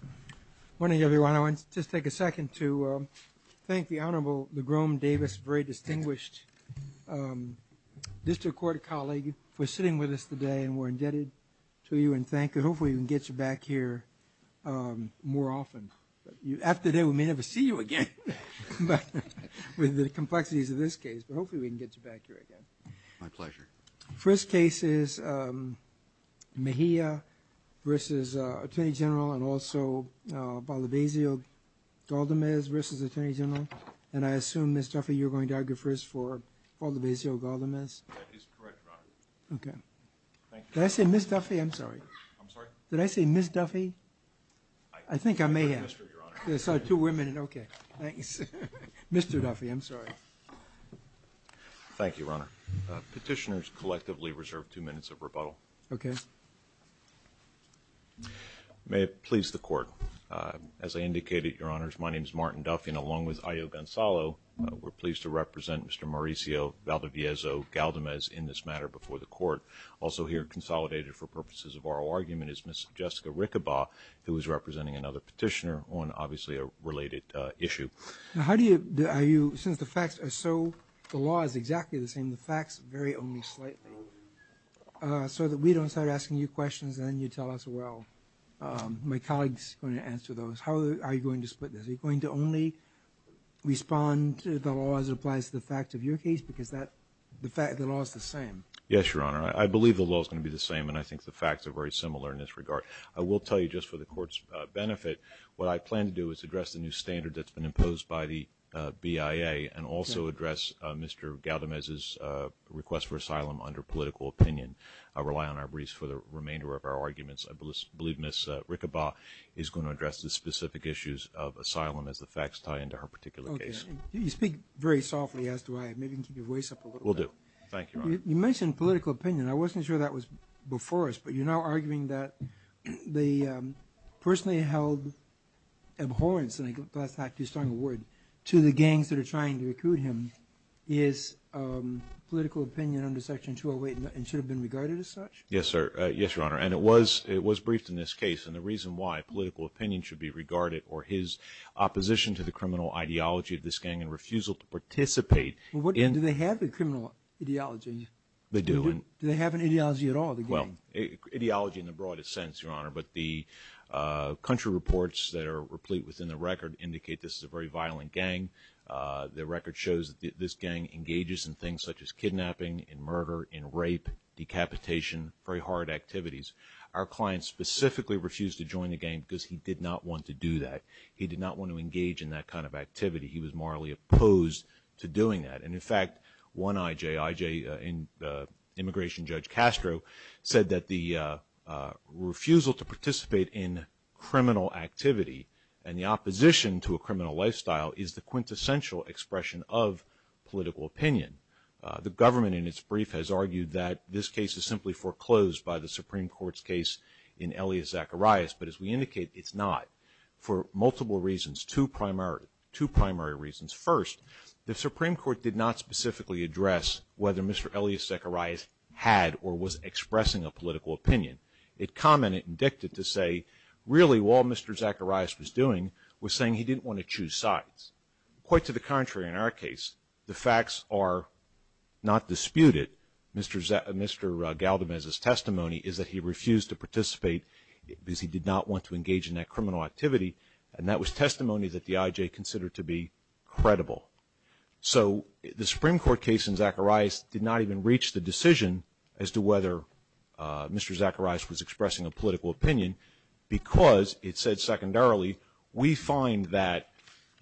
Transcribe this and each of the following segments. Good morning, everyone. I want to just take a second to thank the Honorable LaGrom Davis, a very distinguished district court colleague, for sitting with us today, and we're indebted to you, and thank you. Hopefully, we can get you back here more often. After this, we may never see you again, but with the complexities of this case, hopefully, we can get you back here again. My pleasure. The first case is Mejia v. Atty. Gen and also Valdebezio-Galdamez v. Atty. Gen, and I assume, Ms. Duffy, you're going to argue first for Valdebezio-Galdamez? That is correct, Your Honor. Okay. Did I say Ms. Duffy? I'm sorry. I'm sorry? Did I say Ms. Duffy? I think I may have. I said Mr., Your Honor. Sorry, two women, and okay. Thanks. Mr. Duffy, I'm sorry. Thank you, Your Honor. Petitioners collectively reserve two minutes of rebuttal. Okay. May it please the Court. As I indicated, Your Honors, my name is Martin Duffy, and along with Ayo Gonzalo, we're pleased to represent Mr. Mauricio Valdebezio-Galdamez in this matter before the Court. Also here, consolidated for purposes of oral argument, is Ms. Jessica Riccobar, who is representing another petitioner on, obviously, a related issue. Now, how do you, are you, since the facts are so, the law is exactly the same, the facts vary only slightly, so that we don't start asking you questions, and then you tell us, well, my colleague's going to answer those. How are you going to split this? Are you going to only respond to the law as it applies to the facts of your case, because that, the fact, the law's the same? Yes, Your Honor. I believe the law's going to be the same, and I think the facts are very similar in this regard. I will tell you, just for the Court's benefit, what I plan to do is address the new standard that's been imposed by the BIA, and also address Mr. Galdamez's request for asylum under political opinion. I rely on our briefs for the remainder of our arguments. I believe Ms. Riccobar is going to address the specific issues of asylum as the facts tie into her particular case. Okay. You speak very softly, as do I. Maybe you can keep your voice up a little bit. Will do. Thank you, Your Honor. You mentioned political opinion. I wasn't sure that was before us, but you're now abhorrent to the gangs that are trying to recruit him. Is political opinion under Section 208 and should have been regarded as such? Yes, Your Honor, and it was briefed in this case, and the reason why political opinion should be regarded or his opposition to the criminal ideology of this gang and refusal to participate in... Do they have the criminal ideology? Do they have an ideology at all, the gang? Well, ideology in the broadest sense, Your Honor, but the country reports that are replete within the record indicate this is a very violent gang. The record shows that this gang engages in things such as kidnapping and murder and rape, decapitation, very hard activities. Our client specifically refused to join the gang because he did not want to do that. He did not want to engage in that kind of activity. He was morally opposed to doing that, and in fact, one IJ, IJ Immigration Judge Castro, said that the refusal to participate in criminal activity and the opposition to a criminal lifestyle is the quintessential expression of political opinion. The government in its brief has argued that this case is simply foreclosed by the Supreme Court's case in Elia Zacharias, but as we indicate, it's not For multiple reasons, two primary reasons. First, the Supreme Court did not specifically address whether Mr. Elia Zacharias had or was expressing a political opinion. It commented and dictated to say, really, all Mr. Zacharias was doing was saying he didn't want to choose sides. Quite to the contrary, in our case, the facts are not disputed. Mr. Galdamez's testimony is that he refused to participate because he did not want to engage in that criminal activity, and that was testimony that the IJ considered to be credible. So the Supreme Court case in Zacharias did not even reach the decision as to whether Mr. Zacharias was expressing a political opinion because it said secondarily, we find that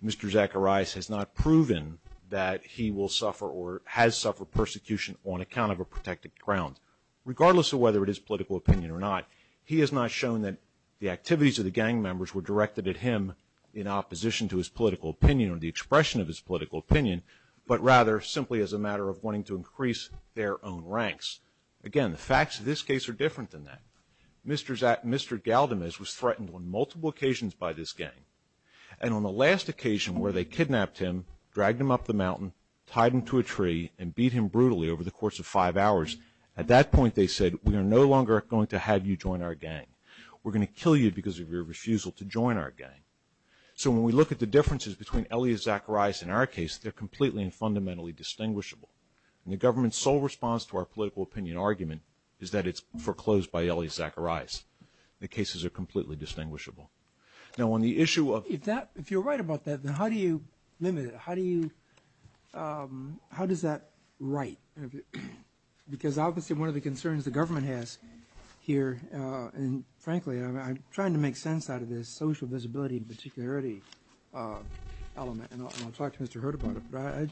Mr. Zacharias has not proven that he will suffer or has suffered persecution on account of a protected ground. Regardless of whether it is political opinion or not, he has not shown that the activities of the gang members were directed at him in opposition to his political opinion or the expression of his political opinion, but rather simply as a matter of wanting to increase their own ranks. Again, the facts of this case are different than that. Mr. Galdamez was threatened on multiple occasions by this gang, and on the last occasion where they kidnapped him, dragged him up the mountain, tied him to a tree, and beat him for 45 hours, at that point they said, we are no longer going to have you join our gang. We're going to kill you because of your refusal to join our gang. So when we look at the differences between Elia Zacharias and our case, they're completely and fundamentally distinguishable, and the government's sole response to our political opinion argument is that it's foreclosed by Elia Zacharias. The cases are completely distinguishable. If you're right about that, then how do you limit it? How does that write? Because obviously one of the concerns the government has here, and frankly I'm trying to make sense out of this social visibility and particularity element, and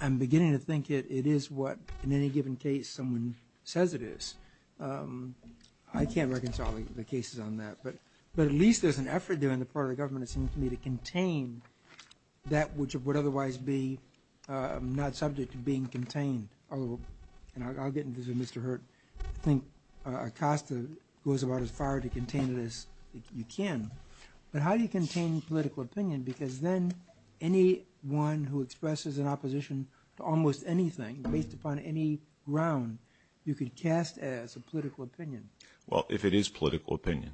I'm beginning to think it is what in any given case someone says it is. I can't reconcile the cases on that, but at least there's an effort there on the part of the government, it seems to me, to contain that which would otherwise be not subject to being contained. I'll get into this with Mr. Hurt. I think Acosta goes about as far to contain it as you can. But how do you contain political opinion? Because then anyone who Well, if it is political opinion,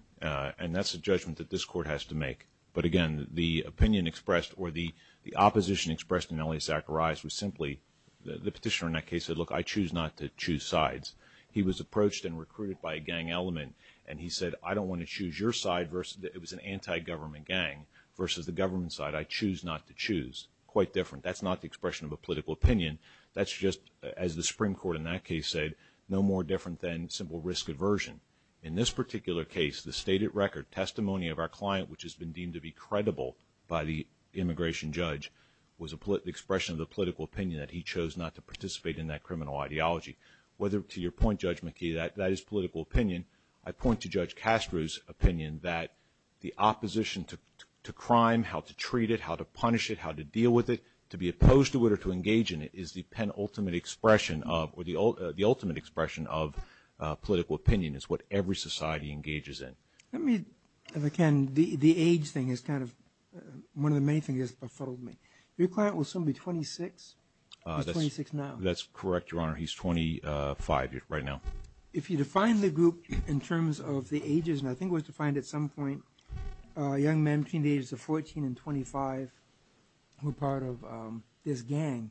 and that's a judgment that this court has to make. But again, the opinion expressed or the opposition expressed in Elia Zacharias was simply, the petitioner in that case said, look, I choose not to choose sides. He was approached and recruited by a gang element, and he said, I don't want to choose your side versus, it was an anti-government gang, versus the government side. I choose not to choose. Quite different. That's not the expression of a political opinion. That's just, as the Supreme Court in that case said, no more different than simple risk aversion. In this particular case, the stated record testimony of our client, which has been deemed to be credible by the immigration judge, was an expression of the political opinion that he chose not to participate in that criminal ideology. Whether to your point, Judge McKee, that is political opinion. I point to Judge Castro's opinion that the opposition to crime, how to treat it, how to punish it, how to deal with it, to be opposed to it or to engage in it, is the penultimate expression of, or the ultimate expression of political opinion. It's what every society engages in. Let me, if I can, the age thing is kind of, one of the main things that has befuddled me. Your client was somebody 26? He's 26 now? That's correct, Your Honor. He's 25 right now. If you define the group in terms of the ages, and I think it was defined at some point, young men between the ages of 14 and 25 were part of this gang,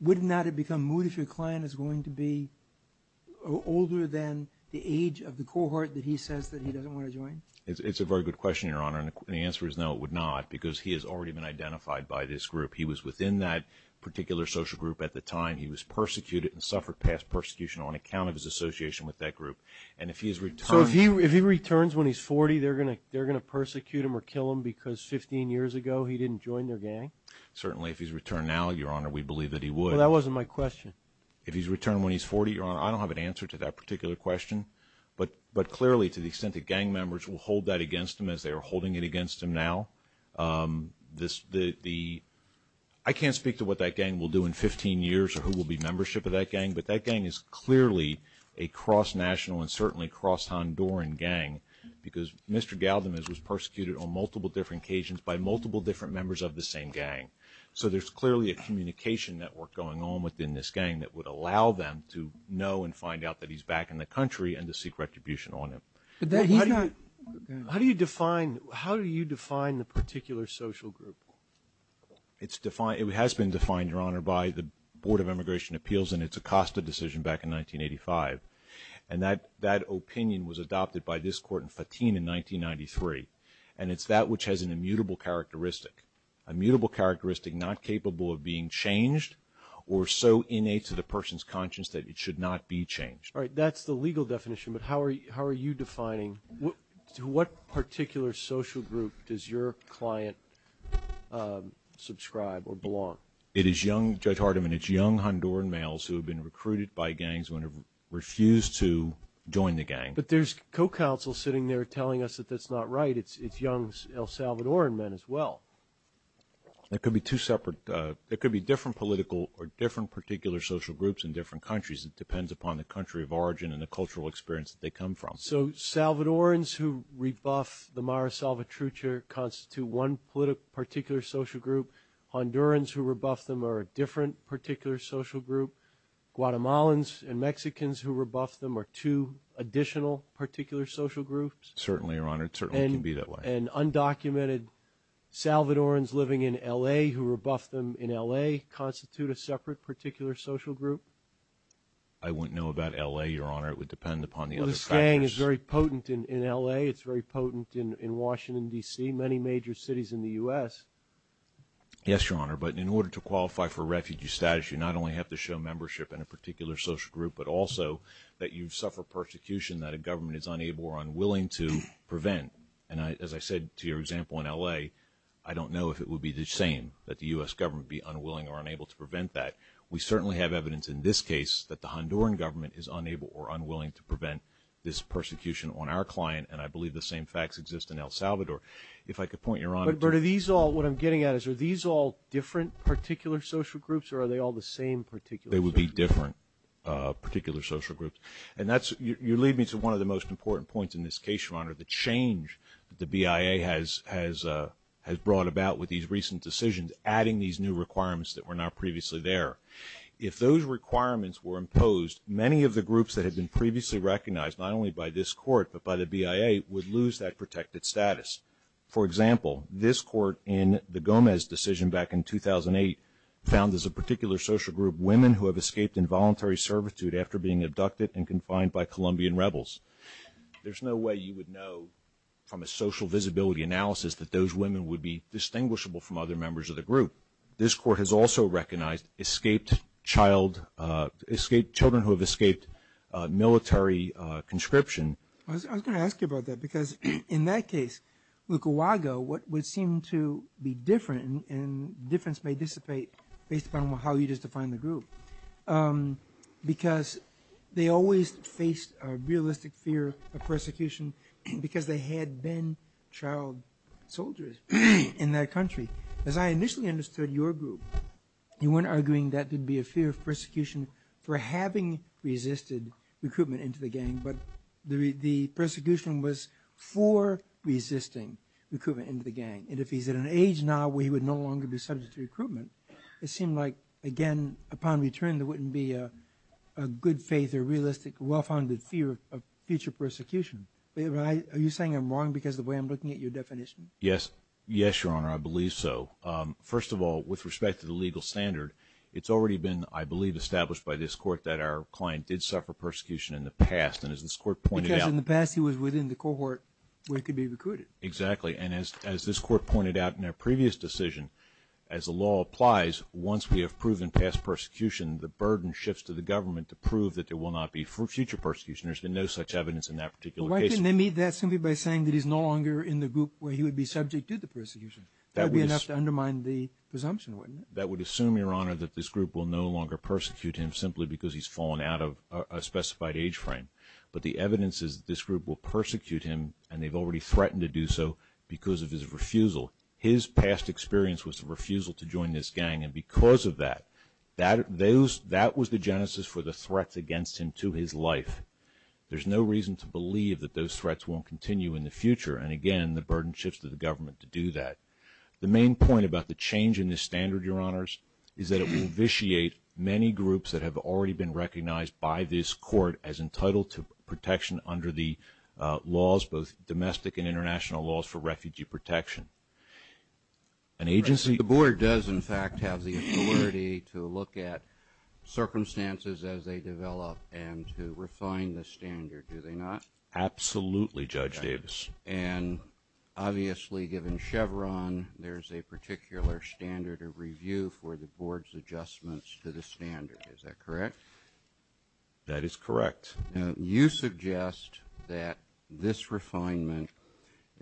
wouldn't that have become moot if your client is going to be older than the age of the cohort that he says that he doesn't want to join? It's a very good question, Your Honor, and the answer is no, it would not, because he has already been identified by this group. He was within that particular social group at the time. He was persecuted and suffered past persecution on account of his association with that group. And if he's returned... They're going to persecute him or kill him because 15 years ago he didn't join their gang? Certainly, if he's returned now, Your Honor, we believe that he would. But that wasn't my question. If he's returned when he's 40, Your Honor, I don't have an answer to that particular question. But clearly, to the extent that gang members will hold that against him as they are holding it against him now, I can't speak to what that gang will do in 15 years or who will be membership of that gang, but that gang is clearly a cross-national and certainly cross-Honduran gang because Mr. Galdemez was persecuted on multiple different occasions by multiple different members of the same gang. So there's clearly a communication network going on within this gang that would allow them to know and find out that he's back in the country and to seek retribution on him. How do you define the particular social group? It has been defined, Your Honor, by the Board of Immigration Appeals in its Acosta decision back in 1985, and that opinion was adopted by this Court in Fatim in 1993, and it's that which has an immutable characteristic, immutable characteristic not capable of being changed or so innate to the person's conscience that it should not be changed. All right, that's the legal definition, but how are you defining to what particular social group does your client subscribe or belong? It is young, Judge Hardiman, it's young Honduran males who have been recruited by gangs when they refuse to join the gang. But there's co-counsel sitting there telling us that that's not right. It's young El Salvadoran men as well. It could be two separate, it could be different political or different particular social groups in different countries. It depends upon the country of origin and the cultural experience that they come from. So Salvadorans who rebuff the Mara Salvatrucha constitute one particular social group, Hondurans who rebuff them are a different particular social group, Guatemalans and Mexicans who rebuff them are two additional particular social groups? Certainly, Your Honor, it certainly can be that way. And undocumented Salvadorans living in L.A. who rebuff them in L.A. constitute a separate particular social group? I wouldn't know about L.A., Your Honor, it would depend upon the other countries. But a gang is very potent in L.A., it's very potent in Washington, D.C., many major cities in the U.S. Yes, Your Honor, but in order to qualify for refugee status, you not only have to show membership in a particular social group, but also that you suffer persecution that a government is unable or unwilling to prevent. And as I said to your example in L.A., I don't know if it would be the same that the U.S. government be unwilling or unable to prevent that. We certainly have evidence in this case that the Honduran government is unable or unwilling to prevent this persecution on our client, and I believe the same facts exist in El Salvador. If I could point you, Your Honor... But are these all, what I'm getting at is, are these all different particular social groups or are they all the same particular... They would be different particular social groups. And that's, you lead me to one of the most important points in this case, Your Honor, the change the BIA has brought about with these recent decisions, adding these new requirements that were not previously there. If those requirements were imposed, many of the groups that had been previously recognized, not only by this court, but by the BIA, would lose that protected status. For example, this court in the Gomez decision back in 2008 found as a particular social group women who have escaped involuntary servitude after being abducted and confined by Colombian rebels. There's no way you would know from a social visibility analysis that those women would be distinguishable from other members of the group. However, this court has also recognized children who have escaped military conscription. I was going to ask you about that because in that case, Lukawaga, what would seem to be different, and difference may dissipate based on how you define the group, because they always faced a realistic fear of persecution because they had been child soldiers in that country. As I initially understood your group, you weren't arguing that there'd be a fear of persecution for having resisted recruitment into the gang, but the persecution was for resisting recruitment into the gang. If he's at an age now where he would no longer be subject to recruitment, it seemed like again, upon return, there wouldn't be a good faith or realistic, well-founded fear of future persecution. Are you saying I'm wrong because of the way I'm looking at your definition? Yes, Your Honor, I believe so. First of all, with respect to the legal standard, it's already been, I believe, established by this court that our client did suffer persecution in the past, and as this court pointed out- Because in the past, he was within the cohort where he could be recruited. Exactly, and as this court pointed out in a previous decision, as the law applies, once we have proven past persecution, the burden shifts to the government to prove that there will not be future persecution. There's been no such evidence in that particular case. Well, why didn't they meet that simply by saying that he's no longer in the group where he would be subject to the persecution? That would be enough to undermine the presumption, wouldn't it? That would assume, Your Honor, that this group will no longer persecute him simply because he's fallen out of a specified age frame, but the evidence is this group will persecute him, and they've already threatened to do so because of his refusal. His past experience was a refusal to join this gang, and because of that, that was the genesis for the threat against him to his life. There's no reason to believe that those threats won't continue in the future, and again, the burden shifts to the government to do that. The main point about the change in this standard, Your Honors, is that it will vitiate many groups that have already been recognized by this court as entitled to protection under the laws, both domestic and international laws for refugee protection. An agency- The board does, in fact, have the authority to look at circumstances as they develop and to refine the standard, do they not? Absolutely, Judge Davis. And obviously, given Chevron, there's a particular standard of review for the board's adjustments to the standard, is that correct? That is correct. Now, you suggest that this refinement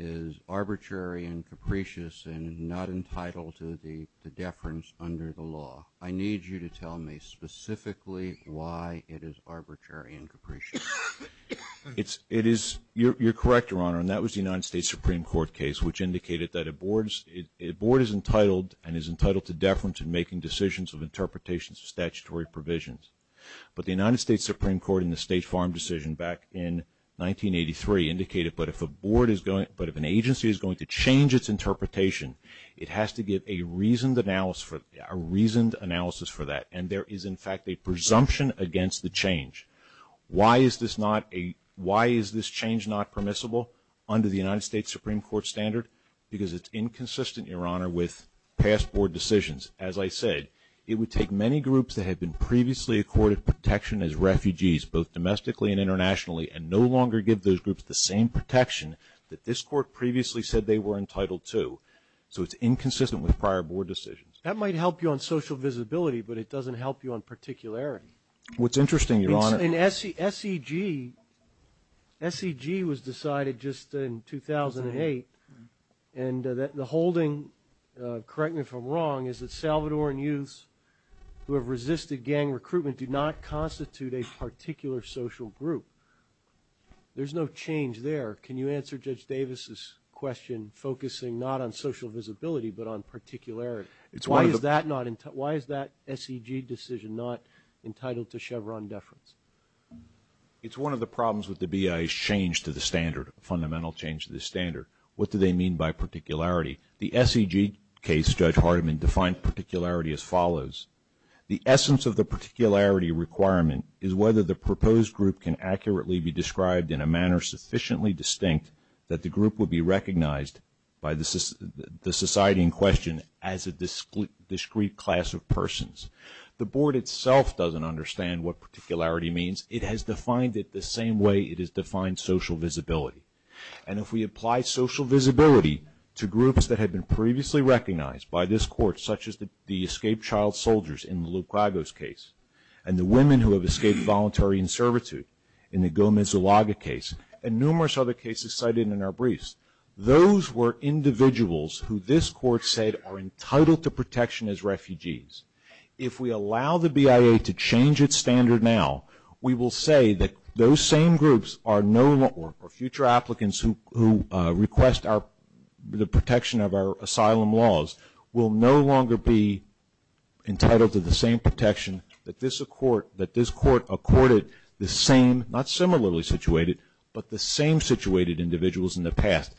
is arbitrary and capricious and not entitled to the deference under the law. I need you to tell me specifically why it is arbitrary and capricious. You're correct, Your Honor, and that was the United States Supreme Court case, which indicated that a board is entitled and is entitled to deference in making decisions of interpretations of statutory provisions. But the United States Supreme Court in the State Farm decision back in 1983 indicated that if an agency is going to change its interpretation, it has to give a reasoned analysis for that. And there is, in fact, a presumption against the change. Why is this change not permissible under the United States Supreme Court standard? Because it's inconsistent, Your Honor, with past board decisions. As I said, it would take many groups that had been previously accorded protection as refugees, both domestically and internationally, and no longer give those groups the same protection that this court previously said they were entitled to. So it's inconsistent with prior board decisions. That might help you on social visibility, but it doesn't help you on particularity. What's interesting, Your Honor... In SEG, SEG was decided just in 2008, and the holding, correct me if I'm wrong, is that Salvadoran youths who have resisted gang recruitment do not constitute a particular social group. There's no change there. Can you answer Judge Davis's question, focusing not on social visibility but on particularity? Why is that SEG decision not entitled to Chevron deference? It's one of the problems with the BIA's change to the standard, fundamental change to the standard. What do they mean by particularity? The SEG case, Judge Hardiman defined particularity as follows. The essence of the particularity requirement is whether the proposed group can accurately be described in a manner sufficiently distinct that the group will be recognized by the society in question as a discrete class of persons. The board itself doesn't understand what particularity means. It has defined it the same way it has defined social visibility. And if we apply social visibility to groups that have been previously recognized by this court, such as the escaped child soldiers in the Lucrego's case, and the women who have escaped voluntary inservitude in the Gomez-Zalaga case, and numerous other cases cited in our individuals who this court said are entitled to protection as refugees, if we allow the BIA to change its standard now, we will say that those same groups are no longer, or future applicants who request the protection of our asylum laws, will no longer be entitled to the same protection that this court accorded the same, not similarly situated, but the same situated individuals in the past.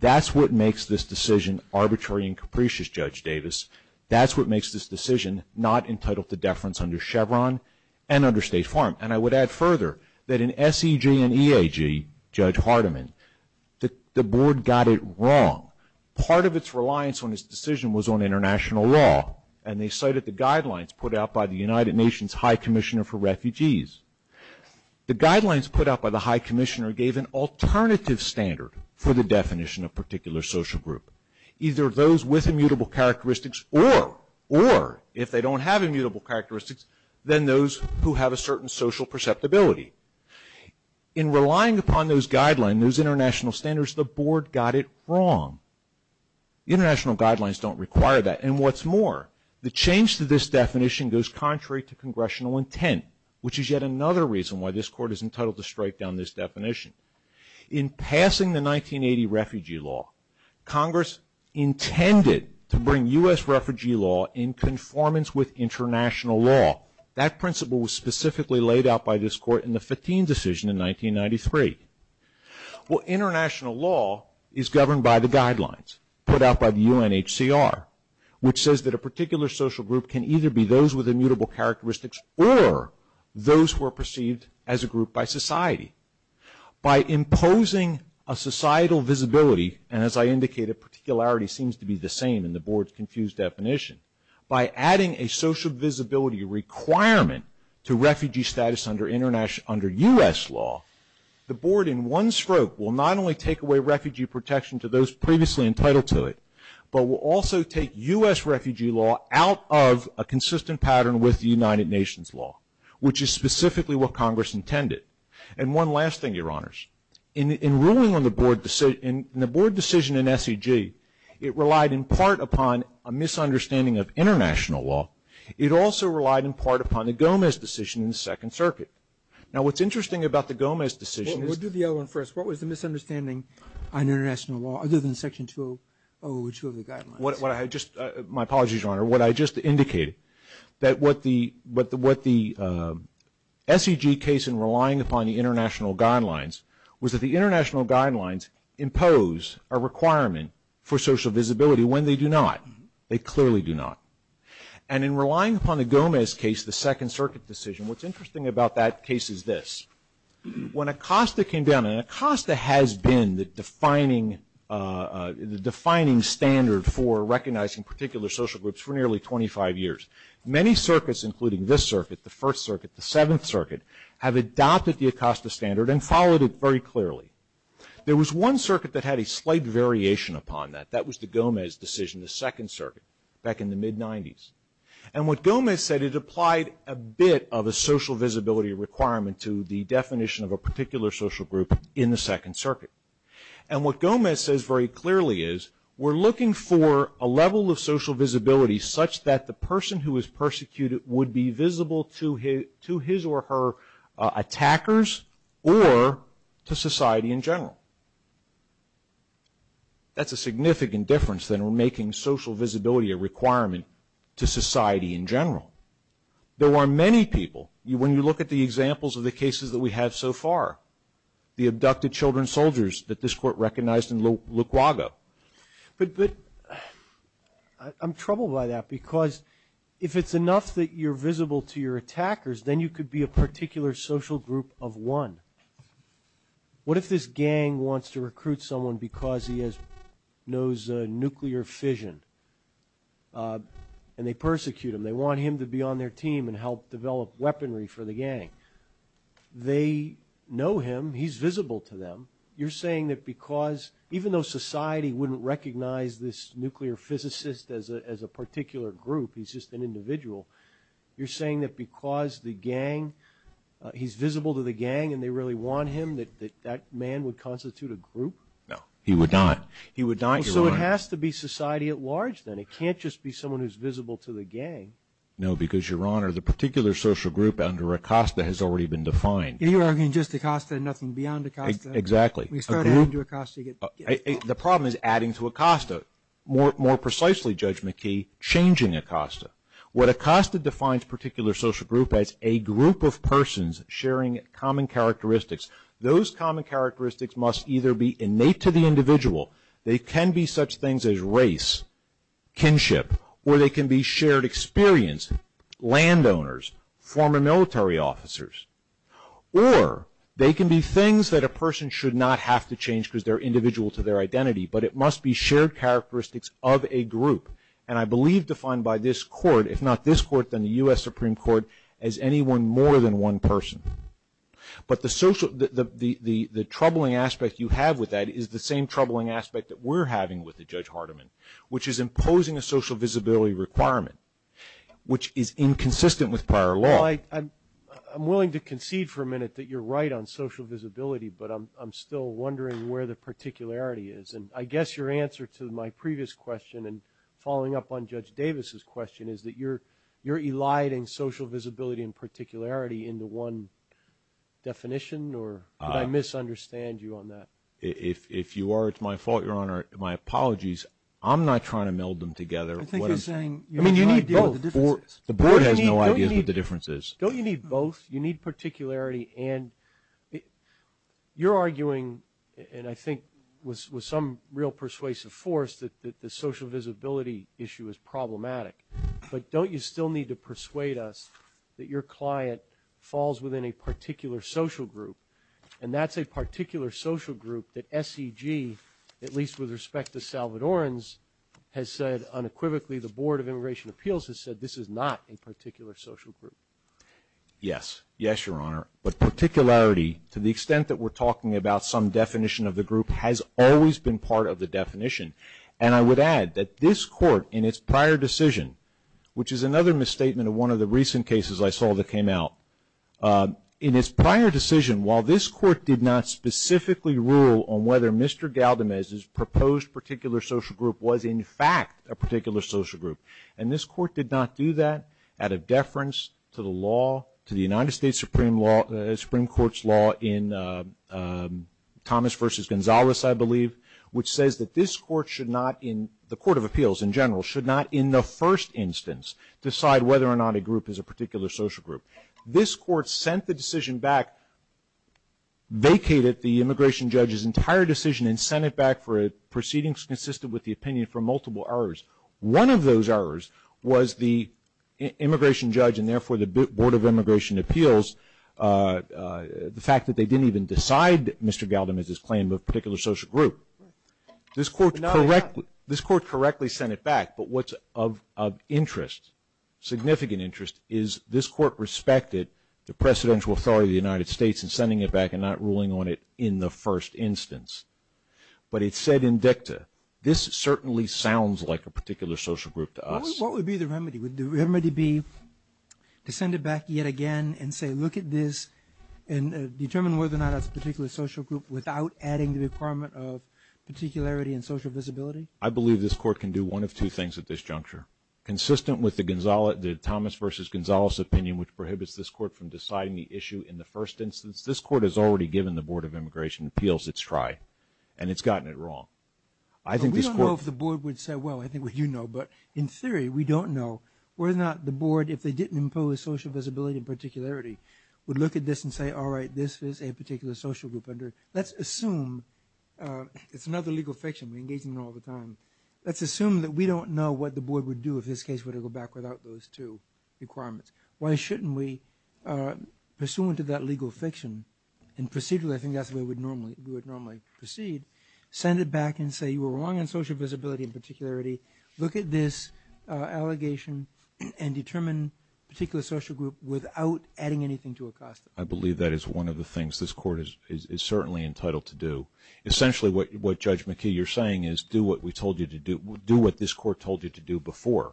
That's what makes this decision arbitrary and capricious, Judge Davis. That's what makes this decision not entitled to deference under Chevron and under State Farm. And I would add further that in SEG and EAG, Judge Hardiman, the board got it wrong. Part of its reliance on this decision was on international law, and they cited the guidelines put out by the United Nations High Commissioner for Refugees. The guidelines put out by the High Commissioner gave an alternative standard for the definition of particular social group. Either those with immutable characteristics, or if they don't have immutable characteristics, then those who have a certain social perceptibility. In relying upon those guidelines, those international standards, the board got it wrong. International guidelines don't require that, and what's more, the change to this definition goes contrary to congressional intent, which is yet another reason why this court is entitled to strike down this definition. In passing the 1980 refugee law, Congress intended to bring U.S. refugee law in conformance with international law. That principle was specifically laid out by this court in the Fatim decision in 1993. Well, international law is governed by the guidelines put out by the UNHCR, which says that a particular social group can either be those with immutable characteristics, or those who are perceived as a group by society. By imposing a societal visibility, and as I indicated, particularity seems to be the same in the board's confused definition. By adding a social visibility requirement to refugee status under U.S. law, the board in one stroke will not only take away refugee protection to those previously entitled to it, but will also take U.S. refugee law out of a consistent pattern with the United Nations law, which is specifically what Congress intended. And one last thing, your honors. In ruling on the board decision in SEG, it relied in part upon a misunderstanding of international law. It also relied in part upon the Gomez decision in the Second Circuit. Now, what's interesting about the Gomez decision... We'll do the other one first. What was the misunderstanding on international law other than Section 202 of the guidelines? My apologies, your honor. What I just indicated, that what the SEG case in relying upon the international guidelines was that the international guidelines impose a requirement for social visibility when they do not. They clearly do not. And in relying upon the Gomez case, the Second Circuit decision, what's interesting about that case is this. When ACOSTA came down, and ACOSTA has been the defining standard for recognizing particular social goods for nearly 25 years, many circuits, including this circuit, the First Circuit, the Seventh Circuit, have adopted the ACOSTA standard and followed it very clearly. There was one circuit that had a slight variation upon that. That was the Gomez decision, the Second Circuit, back in the mid-'90s. And what Gomez said, it applied a bit of a social visibility requirement to the definition of a particular social group in the Second Circuit. And what Gomez says very clearly is, we're looking for a level of social visibility such that the person who is persecuted would be visible to his or her attackers or to society in general. That's a significant difference than making social visibility a requirement to society in general. There are many people. When you look at the examples of the cases that we have so far, the abducted children soldiers that this court recognized in Luaguago. I'm troubled by that because if it's enough that you're visible to your attackers, then you could be a particular social group of one. What if this gang wants to recruit someone because he knows nuclear fission? And they persecute him. They want him to be on their team and help develop weaponry for the gang. They know him. He's visible to them. You're saying that because, even though society wouldn't recognize this nuclear physicist as a particular group, he's just an individual, you're saying that because the gang, he's visible to the gang and they really want him, that that man would constitute a group? No. He would not. He would not, Your Honor. So it has to be society at large, then. It can't just be someone who's visible to the gang. No, because, Your Honor, the particular social group under ACOSTA has already been defined. You're arguing just ACOSTA and nothing beyond ACOSTA. Exactly. The problem is adding to ACOSTA. More precisely, Judge McKee, changing ACOSTA. What ACOSTA defines particular social group as, a group of persons sharing common characteristics. Those common characteristics must either be innate to the individual. They can be such things as race, kinship, or they can be shared experience, landowners, former military officers. Or they can be things that a person should not have to change because they're individual to their identity, but it must be shared characteristics of a group. And I believe defined by this court, if not this court, then the U.S. Supreme Court, as anyone more than one person. But the troubling aspect you have with that is the same troubling aspect that we're having with the Judge Hardiman, which is imposing a social visibility requirement, which is inconsistent with prior law. Well, I'm willing to concede for a minute that you're right on social visibility, but I'm still wondering where the particularity is. And I guess your answer to my previous question and following up on Judge Davis's question is that you're eliding social visibility and particularity into one definition, or did I misunderstand you on that? If you are, it's my fault, Your Honor. My apologies. I'm not trying to meld them together. I think you're saying you need both. The board has no idea what the difference is. Don't you need both? You need particularity. And you're arguing, and I think with some real persuasive force, that the social visibility issue is problematic. But don't you still need to persuade us that your client falls within a particular social group, and that's a particular social group that SEG, at least with respect to Salvadorans, has said unequivocally the Board of Immigration Appeals has said this is not a particular social group. Yes. Yes, Your Honor. But particularity, to the extent that we're talking about some definition of the group, has always been part of the definition. And I would add that this Court, in its prior decision, which is another misstatement of one of the recent cases I saw that came out, in its prior decision, while this Court did not specifically rule on whether Mr. Galdamez's proposed particular social group was, in fact, a particular social group, and this Court did not do that out of deference to the law, to the United States Supreme Court's law in Thomas v. Gonzalez, I believe, which says that this Court should not, in the Court of Appeals in general, should not in the first instance decide whether or not a group is a particular social group. This Court sent the decision back, vacated the immigration judge's entire decision and sent it back for proceedings consistent with the opinion for multiple hours. One of those hours was the immigration judge and, therefore, the Board of Immigration Appeals, the fact that they didn't even decide that Mr. Galdamez's claim of a particular social group. This Court correctly sent it back, but what's of interest, significant interest, is this Court respected the presidential authority of the United States in sending it back and not ruling on it in the first instance. But it said in dicta, this certainly sounds like a particular social group to us. What would be the remedy? Would the remedy be to send it back yet again and say, look at this and determine whether or not it's a particular social group without adding the requirement of particularity and social visibility? I believe this Court can do one of two things at this juncture. Consistent with the Thomas v. Gonzalez opinion, which prohibits this Court from deciding the issue in the first instance, this Court has already given the Board of Immigration Appeals its try, and it's gotten it wrong. We don't know if the Board would say, well, I think we do know, but in theory we don't know. Were it not the Board, if they didn't impose social visibility and particularity, would look at this and say, all right, this is a particular social group. Let's assume it's another legal fiction, we engage in it all the time. Let's assume that we don't know what the Board would do if this case were to go back without those two requirements. Why shouldn't we, pursuant to that legal fiction, and procedurally I think that's the way we would normally proceed, send it back and say you were wrong on social visibility and particularity. Look at this allegation and determine a particular social group without adding anything to it. I believe that is one of the things this Court is certainly entitled to do. Essentially what, Judge McKee, you're saying is do what we told you to do, do what this Court told you to do before.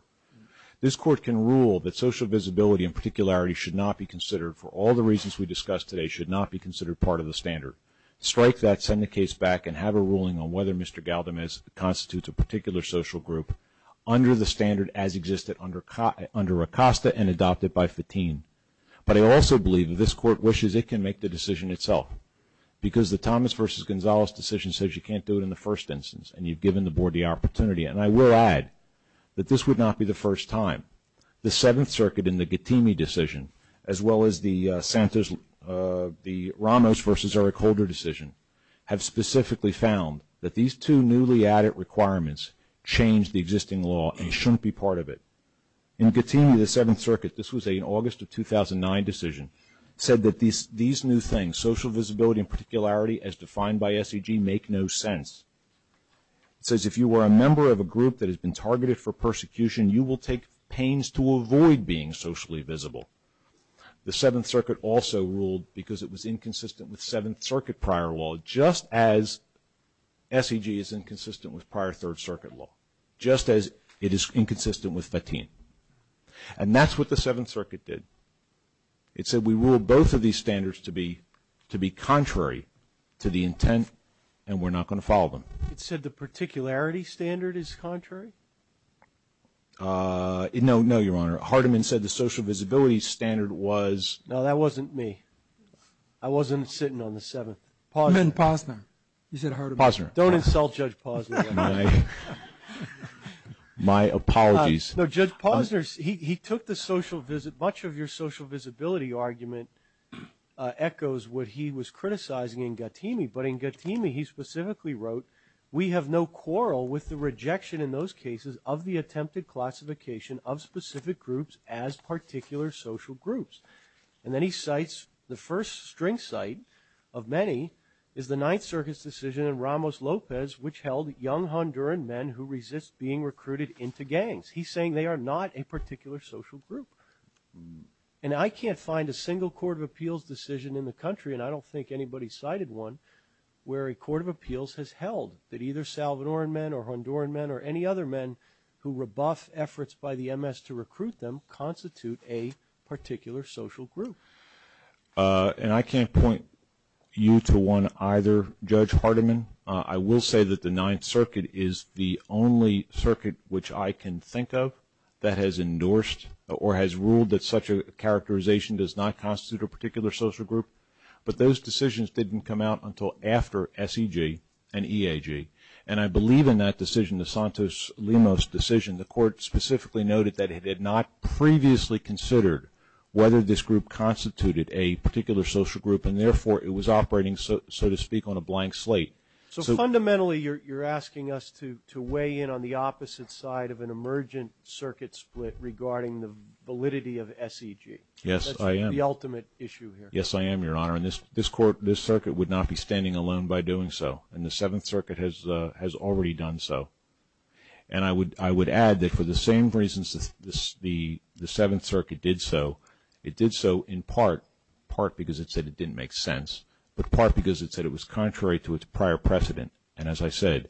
This Court can rule that social visibility and particularity should not be considered, for all the reasons we discussed today, should not be considered part of the standard. Strike that, send the case back, and have a ruling on whether Mr. Galdamez constitutes a particular social group under the standard as existed under Acosta and adopted by Fatim. But I also believe that this Court wishes it can make the decision itself, because the Thomas v. Gonzalez decision says you can't do it in the first instance, and you've given the Board the opportunity. And I will add that this would not be the first time the Seventh Circuit in the Gattini decision, as well as the Ramos v. Eric Holder decision, have specifically found that these two newly added requirements change the existing law and shouldn't be part of it. In Gattini, the Seventh Circuit, this was an August of 2009 decision, said that these new things, social visibility and particularity, as defined by SEG, make no sense. It says if you are a member of a group that has been targeted for persecution, you will take pains to avoid being socially visible. The Seventh Circuit also ruled because it was inconsistent with Seventh Circuit prior law, just as SEG is inconsistent with prior Third Circuit law, just as it is inconsistent with Fatim. And that's what the Seventh Circuit did. It said we rule both of these standards to be contrary to the intent, and we're not going to follow them. It said the particularity standard is contrary? No, no, Your Honor. Hardiman said the social visibility standard was. No, that wasn't me. I wasn't sitting on the Seventh. You meant Posner. You said Hardiman. Posner. Don't insult Judge Posner. My apologies. No, Judge Posner, he took the social visit. Much of your social visibility argument echoes what he was criticizing in Gattini. But in Gattini, he specifically wrote, we have no quarrel with the rejection in those cases of the attempted classification of specific groups as particular social groups. And then he cites the first string cite of many is the Ninth Circuit's decision in Ramos-Lopez, which held young Honduran men who resist being recruited into gangs. He's saying they are not a particular social group. And I can't find a single court of appeals decision in the country, and I don't think anybody cited one, where a court of appeals has held that either Salvadoran men or Honduran men or any other men who rebuff efforts by the MS to recruit them constitute a particular social group. And I can't point you to one either, Judge Hardiman. I will say that the Ninth Circuit is the only circuit which I can think of that has endorsed or has ruled that such a characterization does not constitute a particular social group. But those decisions didn't come out until after SEG and EAG. And I believe in that decision, the Santos-Lumos decision, the court specifically noted that it had not previously considered whether this group constituted a particular social group, and therefore it was operating, so to speak, on a blank slate. So fundamentally, you're asking us to weigh in on the opposite side of an emergent circuit split regarding the validity of SEG. Yes, I am. That's the ultimate issue here. Yes, I am, Your Honor. And this circuit would not be standing alone by doing so. And the Seventh Circuit has already done so. And I would add that for the same reasons the Seventh Circuit did so, it did so in part, part because it said it didn't make sense, but part because it said it was contrary to its prior precedent. And as I said,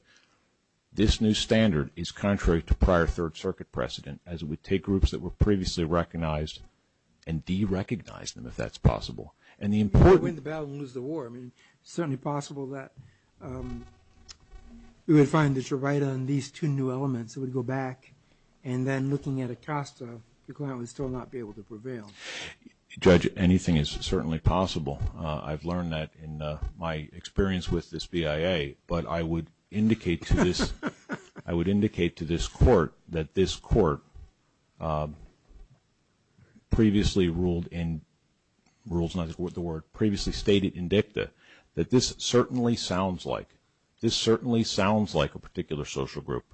this new standard is contrary to prior Third Circuit precedent, as it would take groups that were previously recognized and derecognize them, if that's possible. And the important… Win the battle and lose the war. I mean, it's certainly possible that we would find that you're right on these two new elements. It would go back. And then, looking at it across, the client would still not be able to prevail. Judge, anything is certainly possible. I've learned that in my experience with this BIA. But I would indicate to this court that this court previously ruled in… Rules, not the word, previously stated in dicta that this certainly sounds like, this certainly sounds like a particular social group.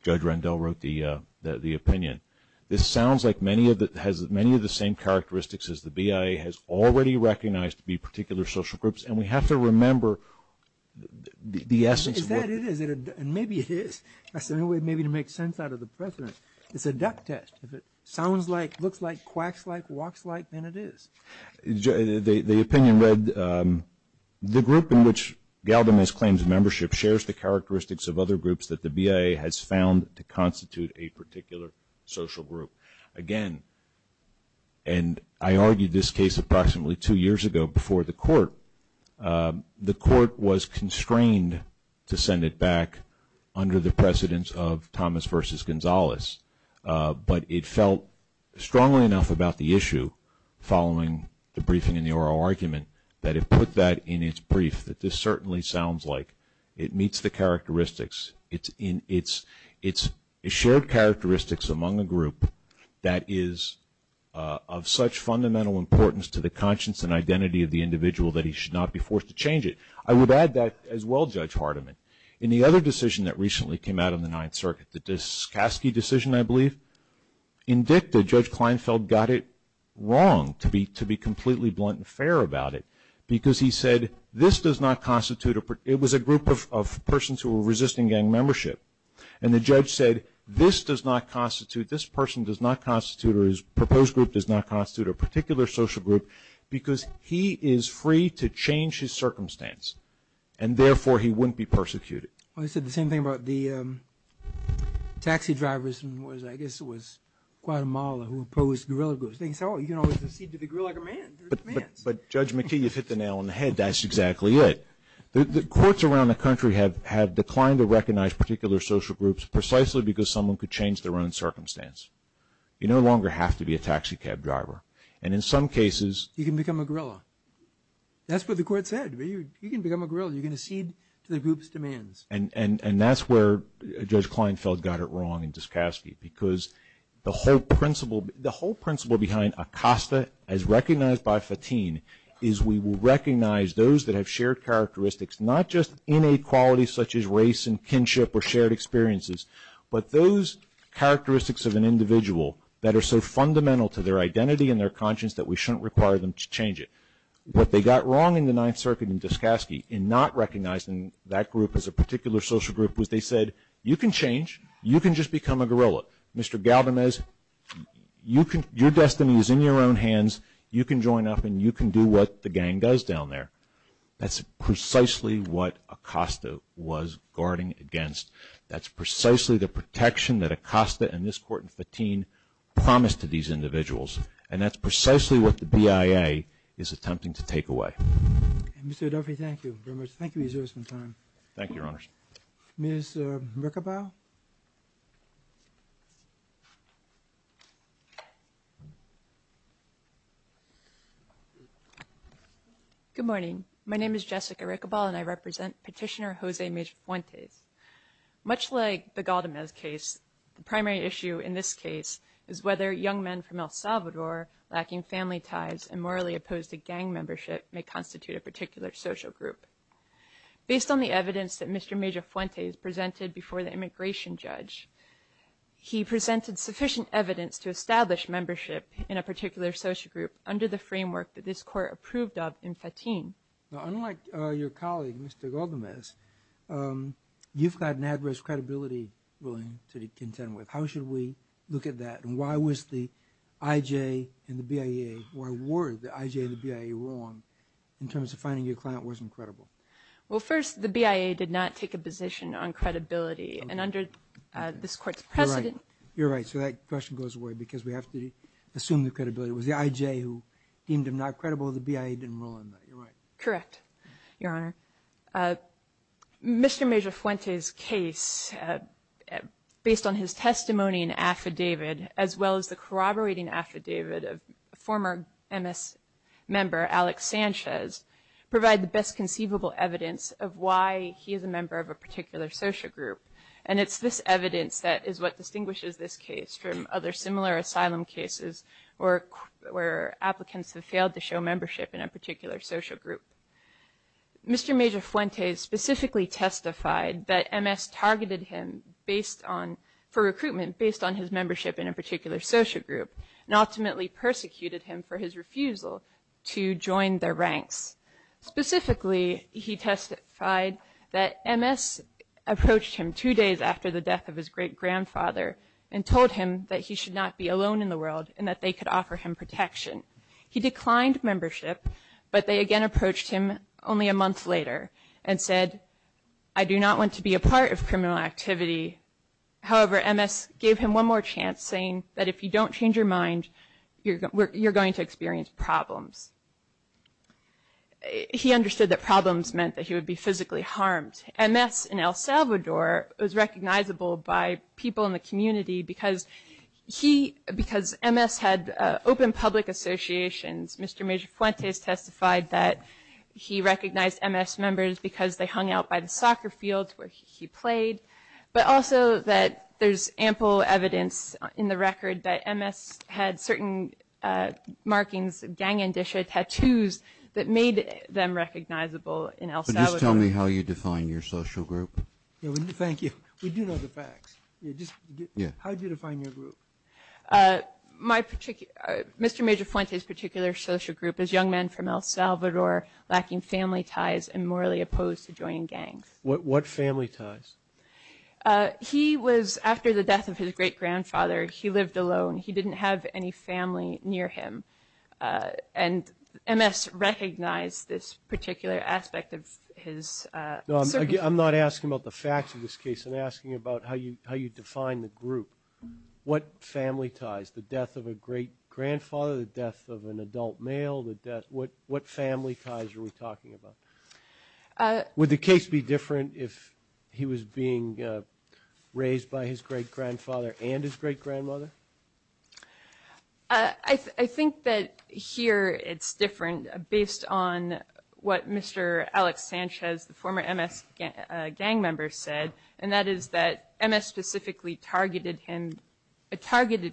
Judge Rendell wrote the opinion. This sounds like many of the, has many of the same characteristics as the BIA has already recognized to be particular social groups. And we have to remember the essence… Is that it? Maybe it is. That's the only way maybe to make sense out of the precedent. It's a duck test. If it sounds like, looks like, quacks like, walks like, then it is. The opinion read, the group in which Galvin has claimed membership shares the characteristics of other groups that the BIA has found to constitute a particular social group. Again, and I argued this case approximately two years ago before the court. The court was constrained to send it back under the precedence of Thomas v. Gonzales. But it felt strongly enough about the issue following the briefing and the oral argument that it put that in its brief, that this certainly sounds like it meets the characteristics. It's shared characteristics among a group that is of such fundamental importance to the conscience and identity of the individual that he should not be forced to change it. I would add that as well, Judge Hardiman, in the other decision that recently came out in the Ninth Circuit, the Daskoski decision, I believe, indicted Judge Kleinfeld got it wrong to be completely blunt and fair about it because he said, this does not constitute, it was a group of persons who were resisting gang membership. And the judge said, this does not constitute, this person does not constitute or his proposed group does not constitute a particular social group because he is free to change his circumstance and therefore he wouldn't be persecuted. He said the same thing about the taxi drivers, I guess it was Guatemala who imposed guerrilla groups. But Judge McKee has hit the nail on the head. That's exactly it. The courts around the country have declined to recognize particular social groups precisely because someone could change their own circumstance. You no longer have to be a taxi cab driver. And in some cases… You can become a guerrilla. That's what the court said. You can become a guerrilla. You can cede to the group's demands. And that's where Judge Kleinfeld got it wrong in Daskoski because the whole principle behind ACOSTA, as recognized by Fatin, is we will recognize those that have shared characteristics, not just inequalities such as race and kinship or shared experiences, but those characteristics of an individual that are so fundamental to their identity and their conscience that we shouldn't require them to change it. What they got wrong in the Ninth Circuit in Daskoski in not recognizing that group as a particular social group was they said, you can change. You can just become a guerrilla. Mr. Galvanez, your destiny is in your own hands. You can join up and you can do what the gang does down there. That's precisely what ACOSTA was guarding against. That's precisely the protection that ACOSTA and this court in Fatin promised to these individuals. And that's precisely what the BIA is attempting to take away. Mr. Duffy, thank you very much. Thank you for your service and time. Thank you, Your Honors. Ms. Riccobal? Good morning. My name is Jessica Riccobal and I represent Petitioner Jose Mejuante. Much like the Galvanez case, the primary issue in this case is whether young men from El Salvador, lacking family ties and morally opposed to gang membership, may constitute a particular social group. Based on the evidence that Mr. Mejuante presented before the immigration judge, he presented sufficient evidence to establish membership in a particular social group under the framework that this court approved of in Fatin. Unlike your colleague, Mr. Galvanez, you've got an adverse credibility ruling to contend with. How should we look at that? And why was the IJ and the BIA, or were the IJ and the BIA wrong in terms of finding your client wasn't credible? Well, first, the BIA did not take a position on credibility. And under this court's precedent... You're right. So that question goes away because we have to assume the credibility. It was the IJ who deemed him not credible. The BIA didn't rule on that. You're right. Correct, Your Honor. Mr. Mejuante's case, based on his testimony and affidavit, as well as the corroborating affidavit of former MS member, Alex Sanchez, provide the best conceivable evidence of why he is a member of a particular social group. And it's this evidence that is what distinguishes this case from other similar asylum cases where applicants have failed to show membership in a particular social group. Mr. Mejuante specifically testified that MS targeted him for recruitment based on his membership in a particular social group and ultimately persecuted him for his refusal to join their ranks. Specifically, he testified that MS approached him two days after the death of his great grandfather and told him that he should not be alone in the world and that they could offer him protection. He declined membership, but they again approached him only a month later and said, I do not want to be a part of criminal activity. However, MS gave him one more chance saying that if you don't change your mind, you're going to experience problems. He understood that problems meant that he would be physically harmed. MS in El Salvador was recognizable by people in the community because MS had open public associations. Mr. Mejuante testified that he recognized MS members because they hung out by the soccer fields where he played, but also that there's ample evidence in the record that MS had certain markings, gang and tattoos, that made them recognizable in El Salvador. Tell me how you define your social group. Thank you. We do know the facts. How do you define your group? Mr. Mejuante's particular social group is young men from El Salvador lacking family ties and morally opposed to joining gangs. What family ties? He was, after the death of his great-grandfather, he lived alone. He didn't have any family near him. And MS recognized this particular aspect of his. I'm not asking about the facts of this case. I'm asking about how you define the group. What family ties? The death of a great-grandfather, the death of an adult male, what family ties are we talking about? Would the case be different if he was being raised by his great-grandfather and his great-grandmother? I think that here it's different based on what Mr. Alex Sanchez, the former MS gang member, said, and that is that MS specifically targeted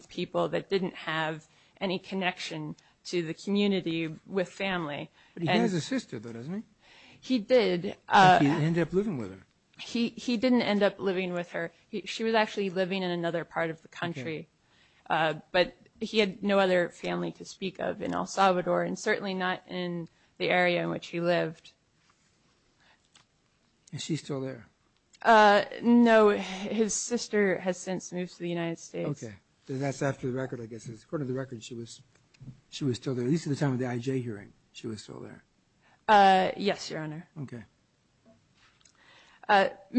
people that didn't have any connection to the community with family. He did have a sister, though, didn't he? He did. But he didn't end up living with her. He didn't end up living with her. She was actually living in another part of the country, but he had no other family to speak of in El Salvador and certainly not in the area in which he lived. Is she still there? No, his sister has since moved to the United States. Okay, so that's after the record, I guess. According to the record, she was still there, at least at the time of the IJ hearing she was still there. Yes, Your Honor. Okay.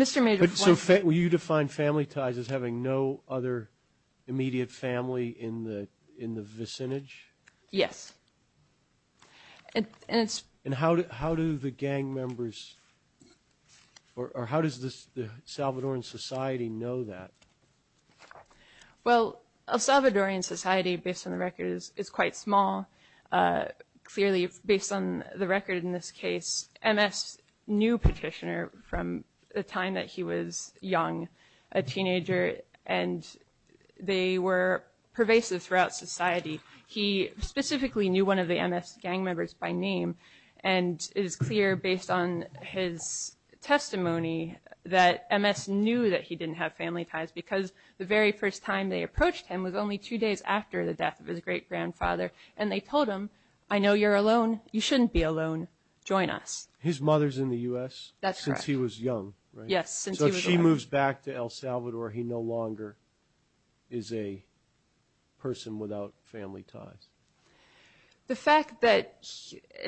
So you define family ties as having no other immediate family in the vicinage? Yes. And how do the gang members or how does the Salvadoran society know that? Well, El Salvadoran society, based on the record, is quite small. Clearly, based on the record in this case, MS knew Petitioner from the time that he was young, a teenager, and they were pervasive throughout society. He specifically knew one of the MS gang members by name and is clear, based on his testimony, that MS knew that he didn't have family ties because the very first time they approached him was only two days after the death of his great-grandfather, and they told him, I know you're alone. You shouldn't be alone. Join us. His mother's in the U.S.? That's correct. Since he was young, right? Yes. So she moves back to El Salvador. He no longer is a person without family ties. The fact that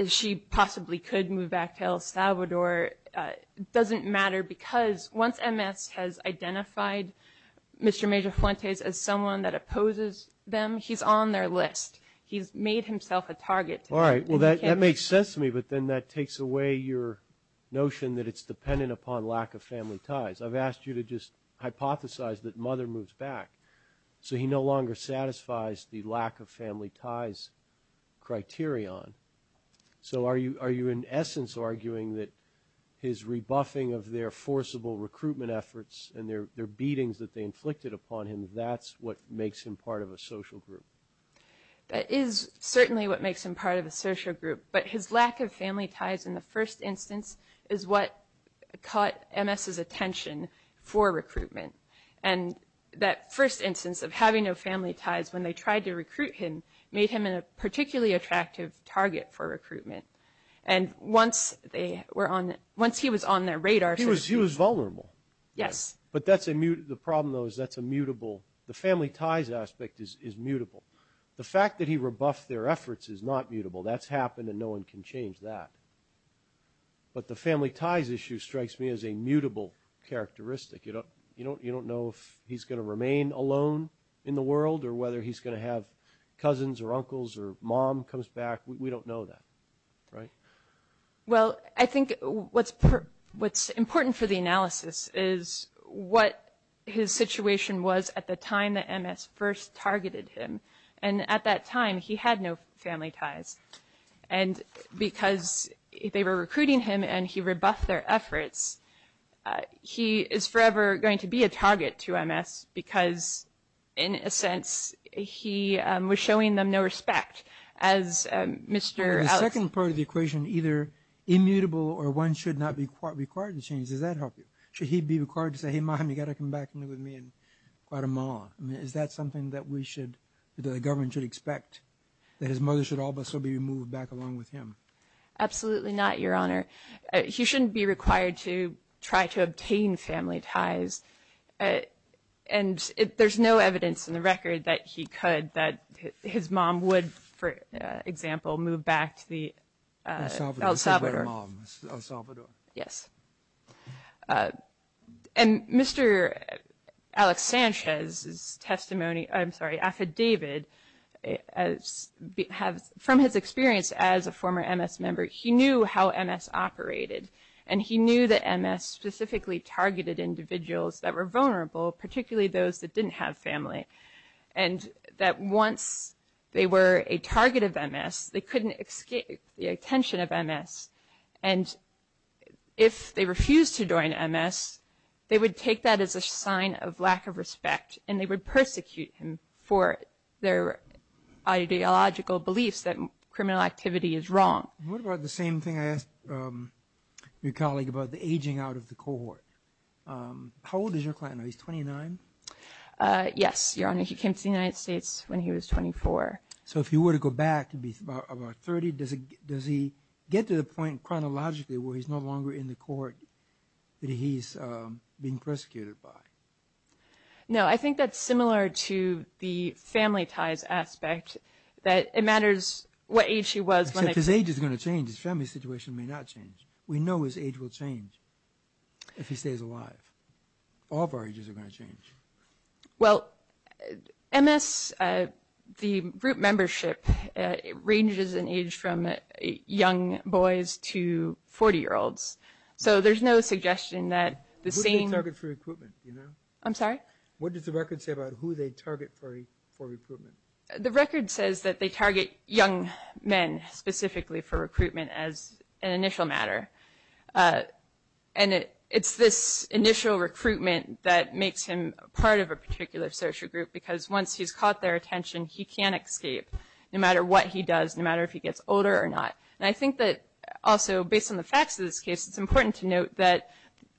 she possibly could move back to El Salvador doesn't matter because once MS has identified Mr. Major Fuentes as someone that opposes them, he's on their list. He's made himself a target. All right. Well, that makes sense to me, but then that takes away your notion that it's dependent upon lack of family ties. I've asked you to just hypothesize that mother moves back, so he no longer satisfies the lack of family ties criterion. So are you in essence arguing that his rebuffing of their forcible recruitment efforts and their beatings that they inflicted upon him, that's what makes him part of a social group? That is certainly what makes him part of a social group, but his lack of family ties in the first instance is what caught MS's attention for recruitment. And that first instance of having no family ties when they tried to recruit him made him a particularly attractive target for recruitment. And once he was on their radar for recruitment. He was vulnerable. Yes. But the problem, though, is that's immutable. The family ties aspect is mutable. The fact that he rebuffed their efforts is not mutable. That's happened and no one can change that. But the family ties issue strikes me as a mutable characteristic. You don't know if he's going to remain alone in the world or whether he's going to have cousins or uncles or mom comes back. We don't know that, right? Well, I think what's important for the analysis is what his situation was at the time that MS first targeted him. And at that time he had no family ties. And because they were recruiting him and he rebuffed their efforts, he is forever going to be a target to MS because, in a sense, he was showing them no respect. The second part of the equation, either immutable or one should not be required to change, does that help you? Should he be required to say, hey, mom, you've got to come back and live with me in Guatemala? Is that something that the government should expect, that his mother should also be moved back along with him? Absolutely not, Your Honor. He shouldn't be required to try to obtain family ties. And there's no evidence in the record that he could, that his mom would, for example, move back to El Salvador. And Mr. Alex Sanchez's affidavit, from his experience as a former MS member, he knew how MS operated and he knew that MS specifically targeted individuals that were vulnerable, particularly those that didn't have family, and that once they were a target of MS, they couldn't escape the attention of MS. And if they refused to join MS, they would take that as a sign of lack of respect and they would persecute him for their ideological beliefs that criminal activity is wrong. What about the same thing I asked your colleague about the aging out of the cohort? How old is your client now? He's 29? Yes, Your Honor. He came to the United States when he was 24. So if he were to go back to be about 30, does he get to the point chronologically where he's no longer in the cohort that he's being persecuted by? No, I think that's similar to the family type aspect, that it matters what age he was. If his age is going to change, his family situation may not change. We know his age will change if he stays alive. All barges are going to change. Well, MS, the group membership, ranges in age from young boys to 40-year-olds. What does the record say about who they target for recruitment? The record says that they target young men specifically for recruitment as an initial matter. And it's this initial recruitment that makes him part of a particular social group because once he's caught their attention, he can't escape no matter what he does, no matter if he gets older or not. And I think that also based on the facts of this case, it's important to note that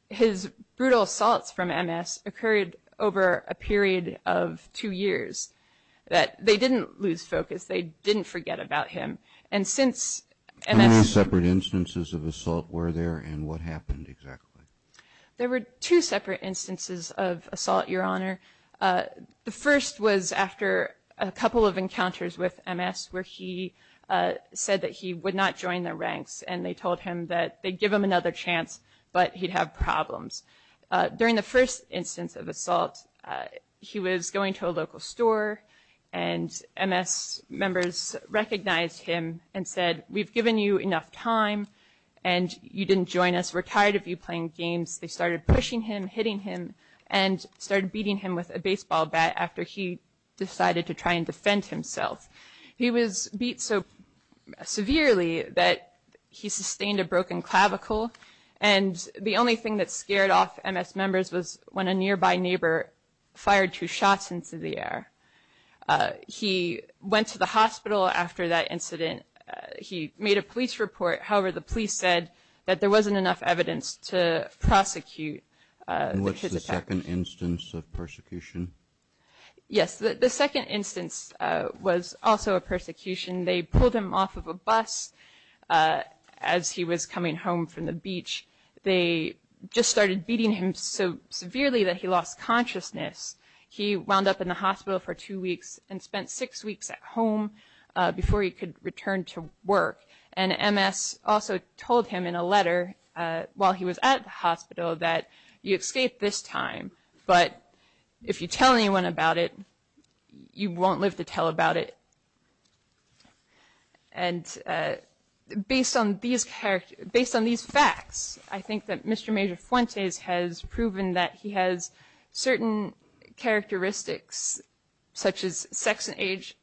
his brutal assaults from MS occurred over a period of two years. They didn't lose focus. They didn't forget about him. How many separate instances of assault were there, and what happened exactly? There were two separate instances of assault, Your Honor. The first was after a couple of encounters with MS where he said that he would not join the ranks, and they told him that they'd give him another chance, but he'd have problems. During the first instance of assault, he was going to a local store, and MS members recognized him and said, We've given you enough time, and you didn't join us. We're tired of you playing games. They started pushing him, hitting him, and started beating him with a baseball bat after he decided to try and defend himself. He was beat so severely that he sustained a broken clavicle, and the only thing that scared off MS members was when a nearby neighbor fired two shots into the air. He went to the hospital after that incident. He made a police report. However, the police said that there wasn't enough evidence to prosecute. What's the second instance of persecution? Yes, the second instance was also a persecution. They pulled him off of a bus as he was coming home from the beach. They just started beating him so severely that he lost consciousness. He wound up in the hospital for two weeks and spent six weeks at home before he could return to work, and MS also told him in a letter while he was at the hospital that you escaped this time, but if you tell anyone about it, you won't live to tell about it. And based on these facts, I think that Mr. Major Fuentes has proven that he has certain characteristics, such as sex and age,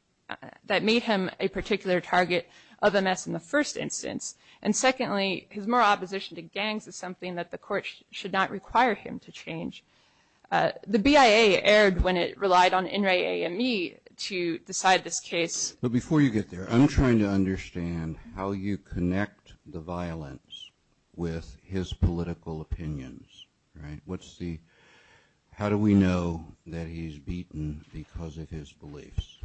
that made him a particular target of MS in the first instance. And secondly, his moral opposition to gangs is something that the court should not require him to change. The BIA erred when it relied on NRA AME to decide this case. But before you get there, I'm trying to understand how you connect the violence with his political opinions. How do we know that he's beaten because of his beliefs?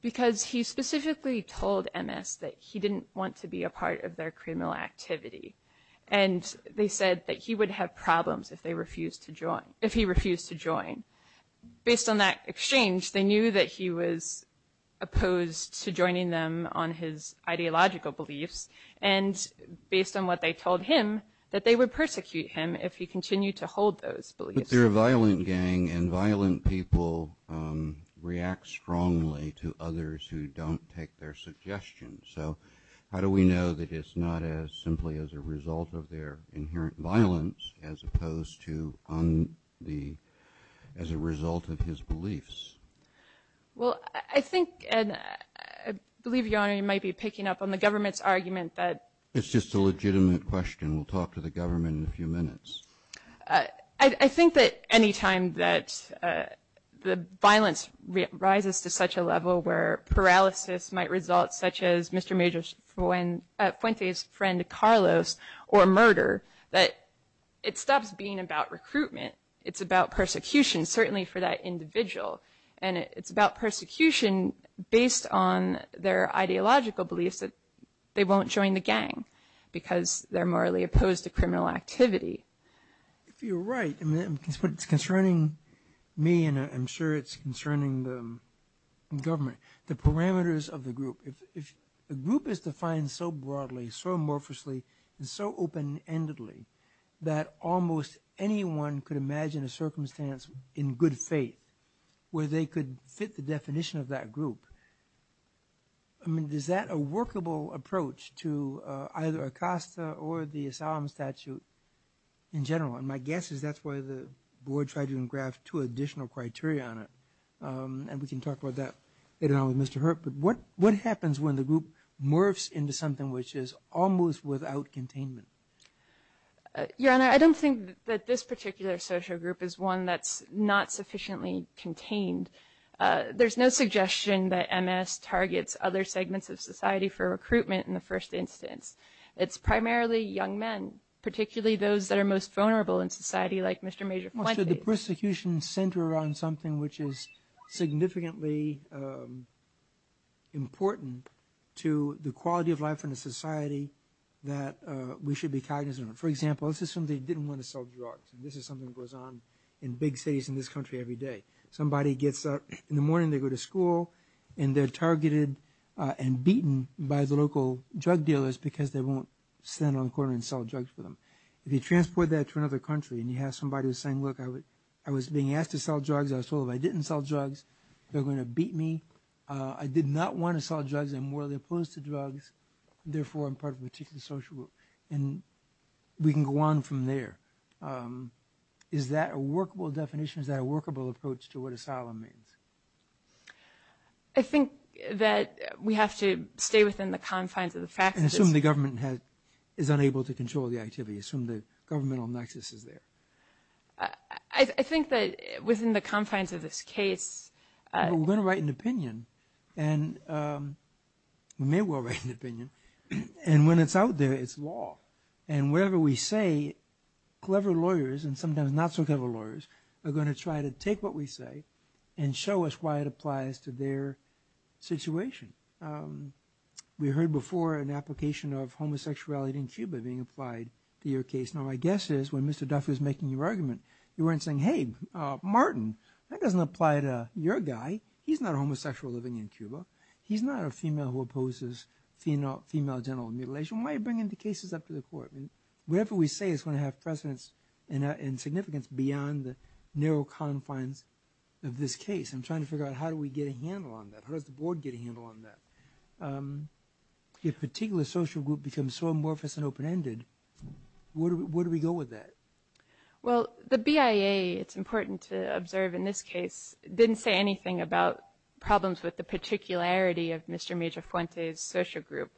Because he specifically told MS that he didn't want to be a part of their criminal activity, and they said that he would have problems if he refused to join. Based on that exchange, they knew that he was opposed to joining them on his ideological beliefs, and based on what they told him, that they would persecute him if he continued to hold those beliefs. But they're a violent gang, and violent people react strongly to others who don't take their suggestions. So how do we know that it's not simply as a result of their inherent violence as opposed to as a result of his beliefs? Well, I think, and I believe your Honor, you might be picking up on the government's argument that... It's just a legitimate question. We'll talk to the government in a few minutes. I think that any time that the violence rises to such a level where paralysis might result, such as Mr. Puente's friend Carlos, or murder, that it stops being about recruitment. It's about persecution, certainly for that individual. And it's about persecution based on their ideological beliefs that they won't join the gang, because they're morally opposed to criminal activity. You're right. It's concerning me, and I'm sure it's concerning the government. The parameters of the group. The group is defined so broadly, so amorphously, and so open-endedly, that almost anyone could imagine a circumstance in good faith where they could fit the definition of that group. I mean, is that a workable approach to either ACOSTA or the asylum statute in general? And my guess is that's why the board tried to engraft two additional criteria on it. And we can talk about that later on with Mr. Hurte. But what happens when the group morphs into something which is almost without containment? Yeah, and I don't think that this particular social group is one that's not sufficiently contained. There's no suggestion that MS targets other segments of society for recruitment in the first instance. It's primarily young men, particularly those that are most vulnerable in society, like Mr. Major Puente. The persecution center on something which is significantly important to the quality of life in a society that we should be cognizant of. For example, let's say somebody didn't want to sell drugs, and this is something that goes on in big cities in this country every day. Somebody gets up in the morning, they go to school, and they're targeted and beaten by the local drug dealers because they won't stand on the corner and sell drugs for them. If you transport that to another country and you have somebody saying, look, I was being asked to sell drugs. I was told if I didn't sell drugs, they're going to beat me. I did not want to sell drugs. I'm morally opposed to drugs. Therefore, I'm part of a particular social group. And we can go on from there. Is that a workable definition? Is that a workable approach to what asylum is? I think that we have to stay within the confines of the facts. And assume the government is unable to control the activity. Assume the governmental nexus is there. I think that within the confines of this case... We're going to write an opinion, and we may well write an opinion. And when it's out there, it's law. And whatever we say, clever lawyers and sometimes not so clever lawyers are going to try to take what we say and show us why it applies to their situation. We heard before an application of homosexuality in Cuba being applied to your case. Now, my guess is when Mr. Duff was making your argument, you weren't saying, hey, Martin, that doesn't apply to your guy. He's not a homosexual living in Cuba. He's not a female who opposes female genital mutilation. Why are you bringing the cases up to the court? Whatever we say is going to have precedence and significance beyond the narrow confines of this case. I'm trying to figure out how do we get a handle on that? I heard the board get a handle on that. If a particular social group becomes so amorphous and open-ended, where do we go with that? Well, the BIA, it's important to observe in this case, didn't say anything about problems with the particularity of Mr. Major Fuentes' social group.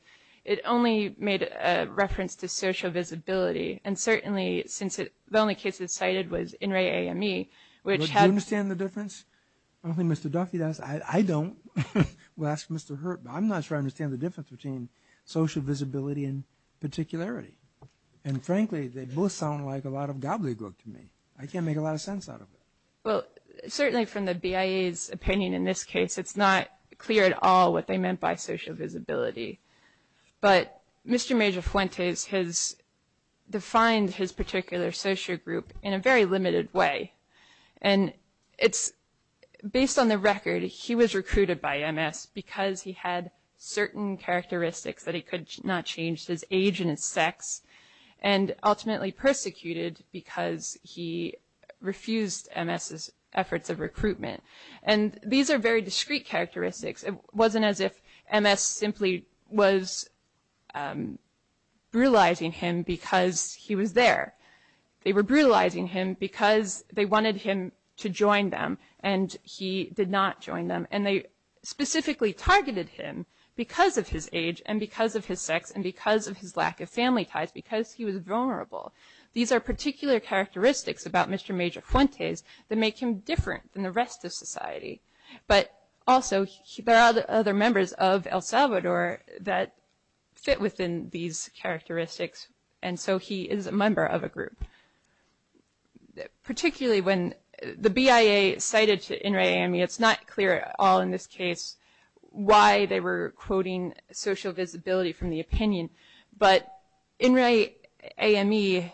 It only made a reference to social visibility. And certainly, since the only case it cited was INRE-AME, which had... Do you understand the difference? I don't think Mr. Duffy does. I don't. Well, ask Mr. Hurt. I'm not sure I understand the difference between social visibility and particularity. And frankly, they both sound like a lot of gobbledygook to me. I can't make a lot of sense out of it. Well, certainly from the BIA's opinion in this case, it's not clear at all what they meant by social visibility. But Mr. Major Fuentes has defined his particular social group in a very limited way. And it's based on the record, he was recruited by MS because he had certain characteristics that he could not change, his age and his sex, and ultimately persecuted because he refused MS's efforts of recruitment. And these are very discrete characteristics. It wasn't as if MS simply was brutalizing him because he was there. They were brutalizing him because they wanted him to join them, and he did not join them. And they specifically targeted him because of his age and because of his sex and because of his lack of family ties, because he was vulnerable. These are particular characteristics about Mr. Major Fuentes that make him different than the rest of society. But also, there are other members of El Salvador that fit within these characteristics, and so he is a member of a group. Particularly when the BIA cited to INRAE-AME, it's not clear at all in this case why they were quoting social visibility from the opinion. But INRAE-AME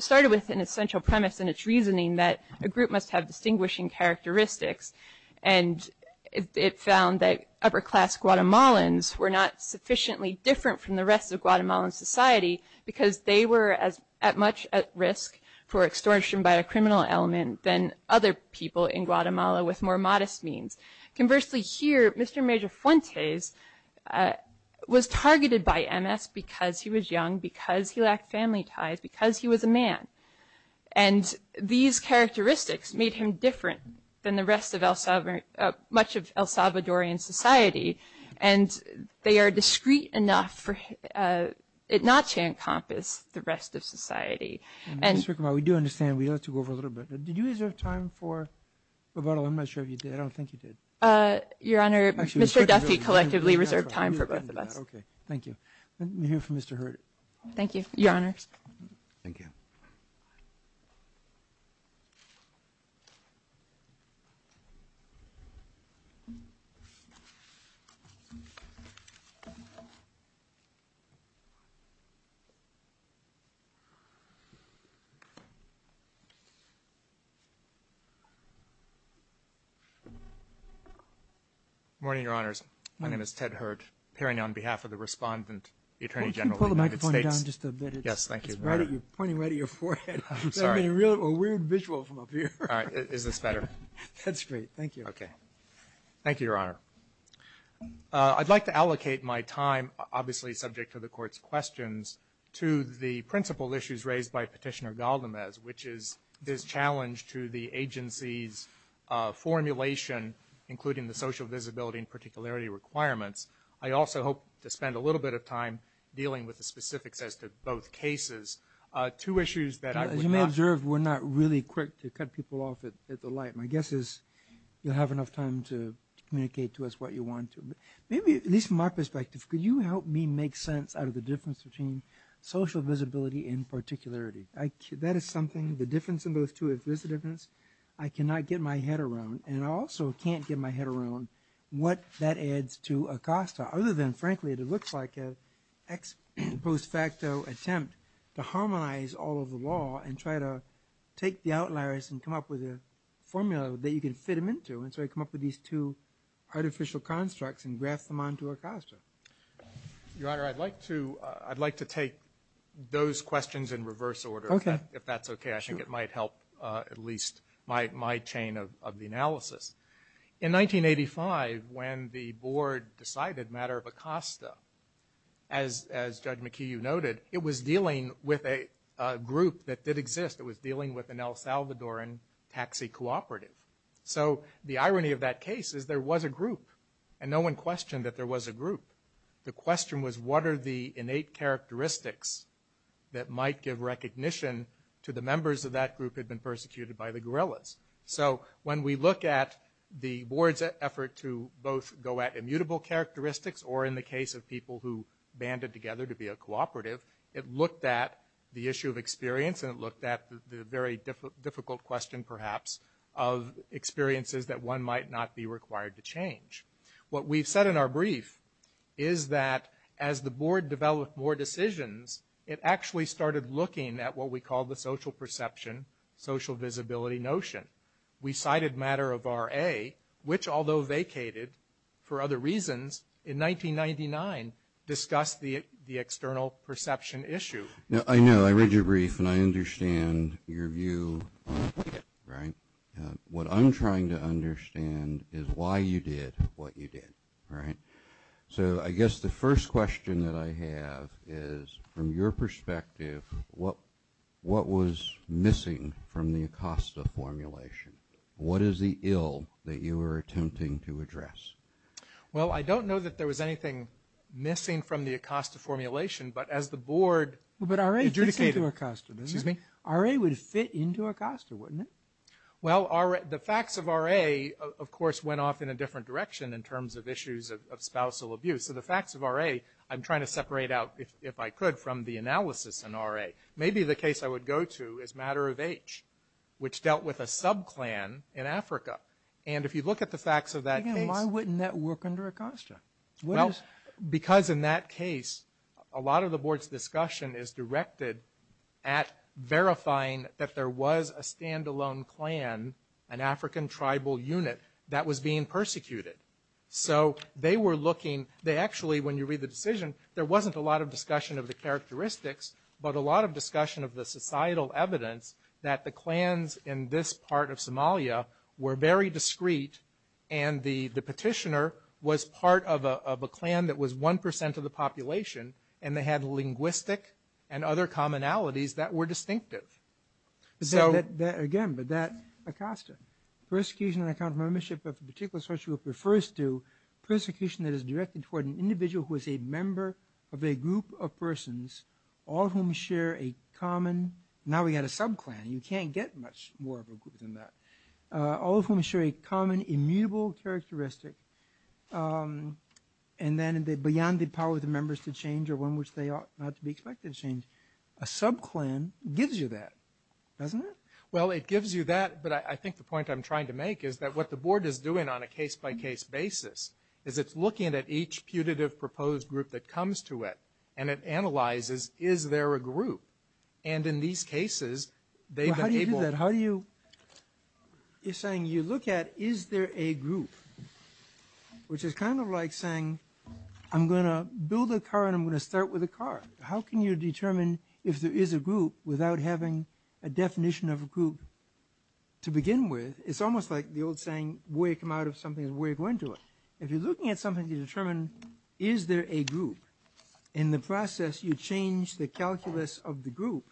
started with an essential premise in its reasoning that a group must have distinguishing characteristics, and it found that upper-class Guatemalans were not sufficiently different from the rest of Guatemalan society because they were at much at risk for extortion by a criminal element than other people in Guatemala with more modest means. Conversely, here, Mr. Major Fuentes was targeted by MS because he was young, because he lacked family ties, because he was a man. And these characteristics made him different than much of El Salvadorian society, and they are discreet enough for it not to encompass the rest of society. We do understand, we have to go over a little bit. Did you reserve time for... I'm not sure if you did, I don't think you did. Your Honor, Mr. Duffy collectively reserved time for both of us. Okay, thank you. Let me hear from Mr. Hurt. Thank you, Your Honor. Thank you. Good morning, Your Honors. My name is Ted Hurt, appearing on behalf of the respondent, Point it down just a bit. Yes, thank you. Point it right at your forehead. Sorry. A weird visual from up here. All right, is this better? That's great, thank you. Okay. Thank you, Your Honor. I'd like to allocate my time, obviously subject to the Court's questions, to the principal issues raised by Petitioner Galdamez, which is this challenge to the agency's formulation, including the social visibility and particularity requirements. I also hope to spend a little bit of time dealing with the specifics as to both cases. Two issues that I... As you may observe, we're not really quick to cut people off at the light. My guess is you'll have enough time to communicate to us what you want to. Maybe at least from my perspective, could you help me make sense out of the difference between social visibility and particularity? That is something, the difference in those two is this difference, I cannot get my head around, and I also can't get my head around what that adds to ACOSTA. Other than, frankly, it looks like an ex post facto attempt to harmonize all of the law and try to take the outliers and come up with a formula that you can fit them into. And so I come up with these two artificial constructs and graft them onto ACOSTA. Your Honor, I'd like to take those questions in reverse order, if that's okay. I'm guessing it might help at least my chain of the analysis. In 1985, when the Board decided matter of ACOSTA, as Judge McHugh noted, it was dealing with a group that did exist. It was dealing with an El Salvadoran taxi cooperative. So the irony of that case is there was a group, and no one questioned that there was a group. The question was what are the innate characteristics that might give recognition to the members of that group had been persecuted by the guerrillas. So when we look at the Board's effort to both go at immutable characteristics or in the case of people who banded together to be a cooperative, it looked at the issue of experience and it looked at the very difficult question, perhaps, of experiences that one might not be required to change. What we've said in our brief is that as the Board developed more decisions, it actually started looking at what we call the social perception, social visibility notion. We cited matter of RA, which, although vacated for other reasons, in 1999 discussed the external perception issue. I know. I read your brief and I understand your view, right? What I'm trying to understand is why you did what you did, right? So I guess the first question that I have is, from your perspective, what was missing from the ACOSTA formulation? What is the ill that you were attempting to address? Well, I don't know that there was anything missing from the ACOSTA formulation, but as the Board adjudicated... The RA would fit into ACOSTA, wouldn't it? Well, the facts of RA, of course, went off in a different direction in terms of issues of spousal abuse. So the facts of RA, I'm trying to separate out, if I could, from the analysis in RA. Maybe the case I would go to is matter of age, which dealt with a sub-clan in Africa. And if you look at the facts of that case... Why wouldn't that work under ACOSTA? Because in that case, a lot of the Board's discussion is directed at verifying that there was a stand-alone clan, an African tribal unit, that was being persecuted. So they were looking... Actually, when you read the decision, there wasn't a lot of discussion of the characteristics, but a lot of discussion of the societal evidence that the clans in this part of Somalia were very discreet, and the petitioner was part of a clan that was 1% of the population, and they had linguistic and other commonalities that were distinctive. Again, but that's ACOSTA. Persecution on account of membership of a particular social group refers to persecution that is directed toward an individual who is a member of a group of persons, all of whom share a common... Now we've got a sub-clan. You can't get much more of a group than that. All of whom share a common immutable characteristic, and then beyond the power of the members to change or one which they are not to be expected to change. A sub-clan gives you that, doesn't it? Well, it gives you that, but I think the point I'm trying to make is that what the Board is doing on a case-by-case basis is it's looking at each putative proposed group that comes to it, and it analyzes, is there a group? And in these cases, they've been able... It's saying you look at, is there a group? Which is kind of like saying, I'm going to build a car and I'm going to start with a car. How can you determine if there is a group without having a definition of a group to begin with? It's almost like the old saying, where you come out of something is where you're going to look. If you're looking at something, you determine, is there a group? In the process, you change the calculus of the group.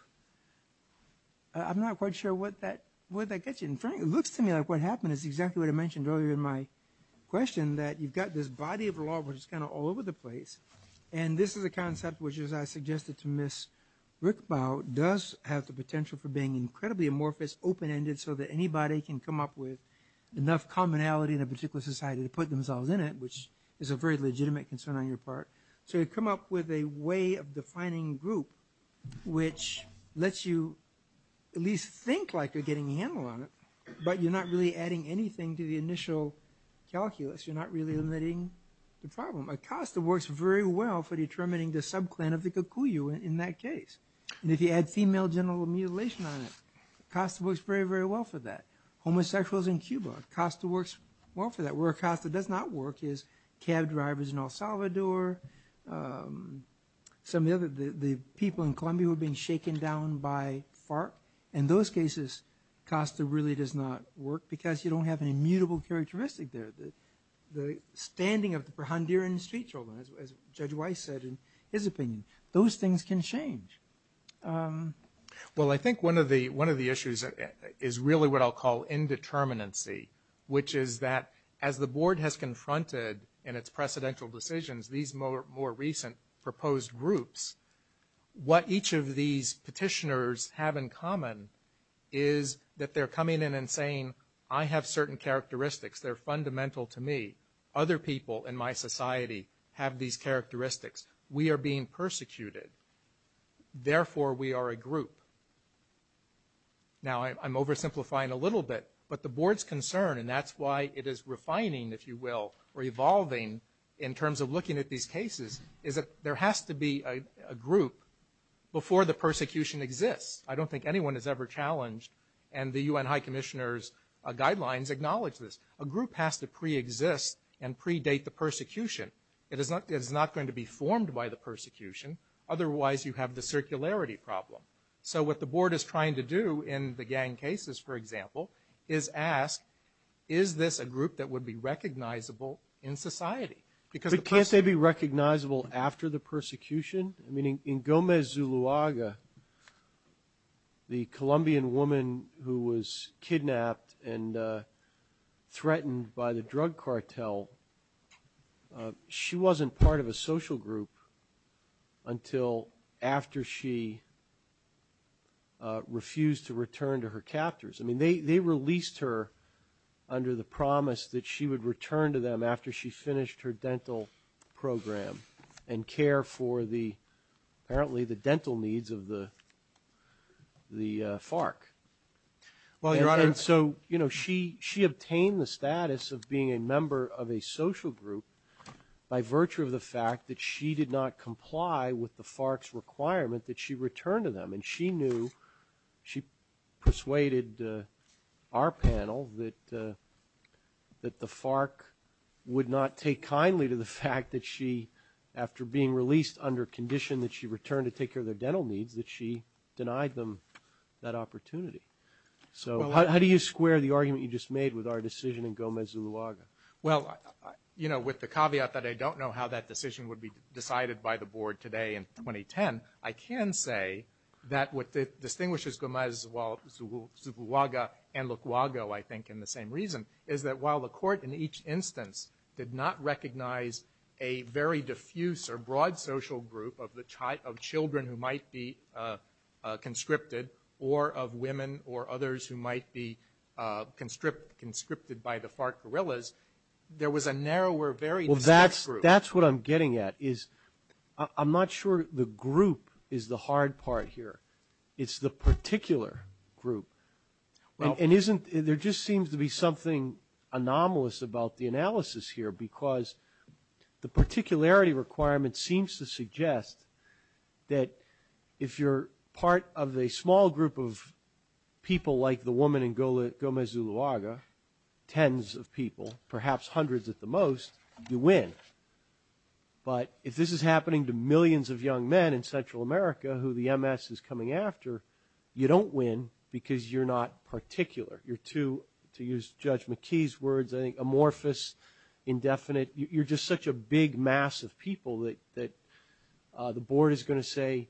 I'm not quite sure where that gets you. It looks to me like what happened is exactly what I mentioned earlier in my question, that you've got this body of law which is kind of all over the place, and this is a concept which, as I suggested to Ms. Rickbau, does have the potential for being incredibly amorphous, open-ended, so that anybody can come up with enough commonality in a particular society to put themselves in it, which is a very legitimate concern on your part. So you come up with a way of defining group which lets you at least think like you're getting a handle on it, but you're not really adding anything to the initial calculus. You're not really limiting the problem. Acosta works very well for determining the sub-clan of the Cucuyu in that case. And if you add female genital mutilation on it, Acosta works very, very well for that. Homosexuals in Cuba, Acosta works well for that. Where Acosta does not work is cab drivers in El Salvador. Some of the people in Colombia were being shaken down by FARC. In those cases, Acosta really does not work because you don't have an immutable characteristic there. The standing of the Honduran street children, as Judge Weiss said in his opinion, those things can change. Well, I think one of the issues is really what I'll call indeterminacy, which is that as the board has confronted in its precedential decisions these more recent proposed groups, what each of these petitioners have in common is that they're coming in and saying, I have certain characteristics that are fundamental to me. Other people in my society have these characteristics. We are being persecuted. Therefore, we are a group. Now, I'm oversimplifying a little bit, but the board's concern, and that's why it is refining, if you will, or evolving in terms of looking at these cases, is that there has to be a group before the persecution exists. I don't think anyone has ever challenged and the UN High Commissioner's guidelines acknowledge this. A group has to preexist and predate the persecution. It is not going to be formed by the persecution. Otherwise, you have the circularity problem. So what the board is trying to do in the gang cases, for example, is ask, is this a group that would be recognizable in society? But can't they be recognizable after the persecution? I mean, in Gomez Zuluaga, the Colombian woman who was kidnapped and threatened by the drug cartel, she wasn't part of a social group until after she refused to return to her captors. I mean, they released her under the promise that she would return to them after she finished her dental program and care for apparently the dental needs of the FARC. Well, Your Honor, so, you know, she obtained the status of being a member of a social group by virtue of the fact that she did not comply with the FARC's requirement that she return to them. And she knew, she persuaded our panel that the FARC would not take kindly to the fact that she, after being released under condition that she return to take care of their dental needs, that she denied them that opportunity. So how do you square the argument you just made with our decision in Gomez Zuluaga? Well, you know, with the caveat that I don't know how that decision would be decided by the board today in 2010, I can say that what distinguishes Gomez Zuluaga and Luquago, I think, in the same reason, is that while the court in each instance did not recognize a very diffuse or broad social group of children who might be conscripted or of women or others who might be conscripted by the FARC guerrillas, there was a narrower, very different group. Well, that's what I'm getting at, is I'm not sure the group is the hard part here. It's the particular group. And there just seems to be something anomalous about the analysis here, because the particularity requirement seems to suggest that if you're part of a small group of people like the woman in Gomez Zuluaga, tens of people, perhaps hundreds at the most, you win. But if this is happening to millions of young men in Central America who the MS is coming after, you don't win because you're not particular. You're too, to use Judge McKee's words, amorphous, indefinite. You're just such a big mass of people that the board is going to say,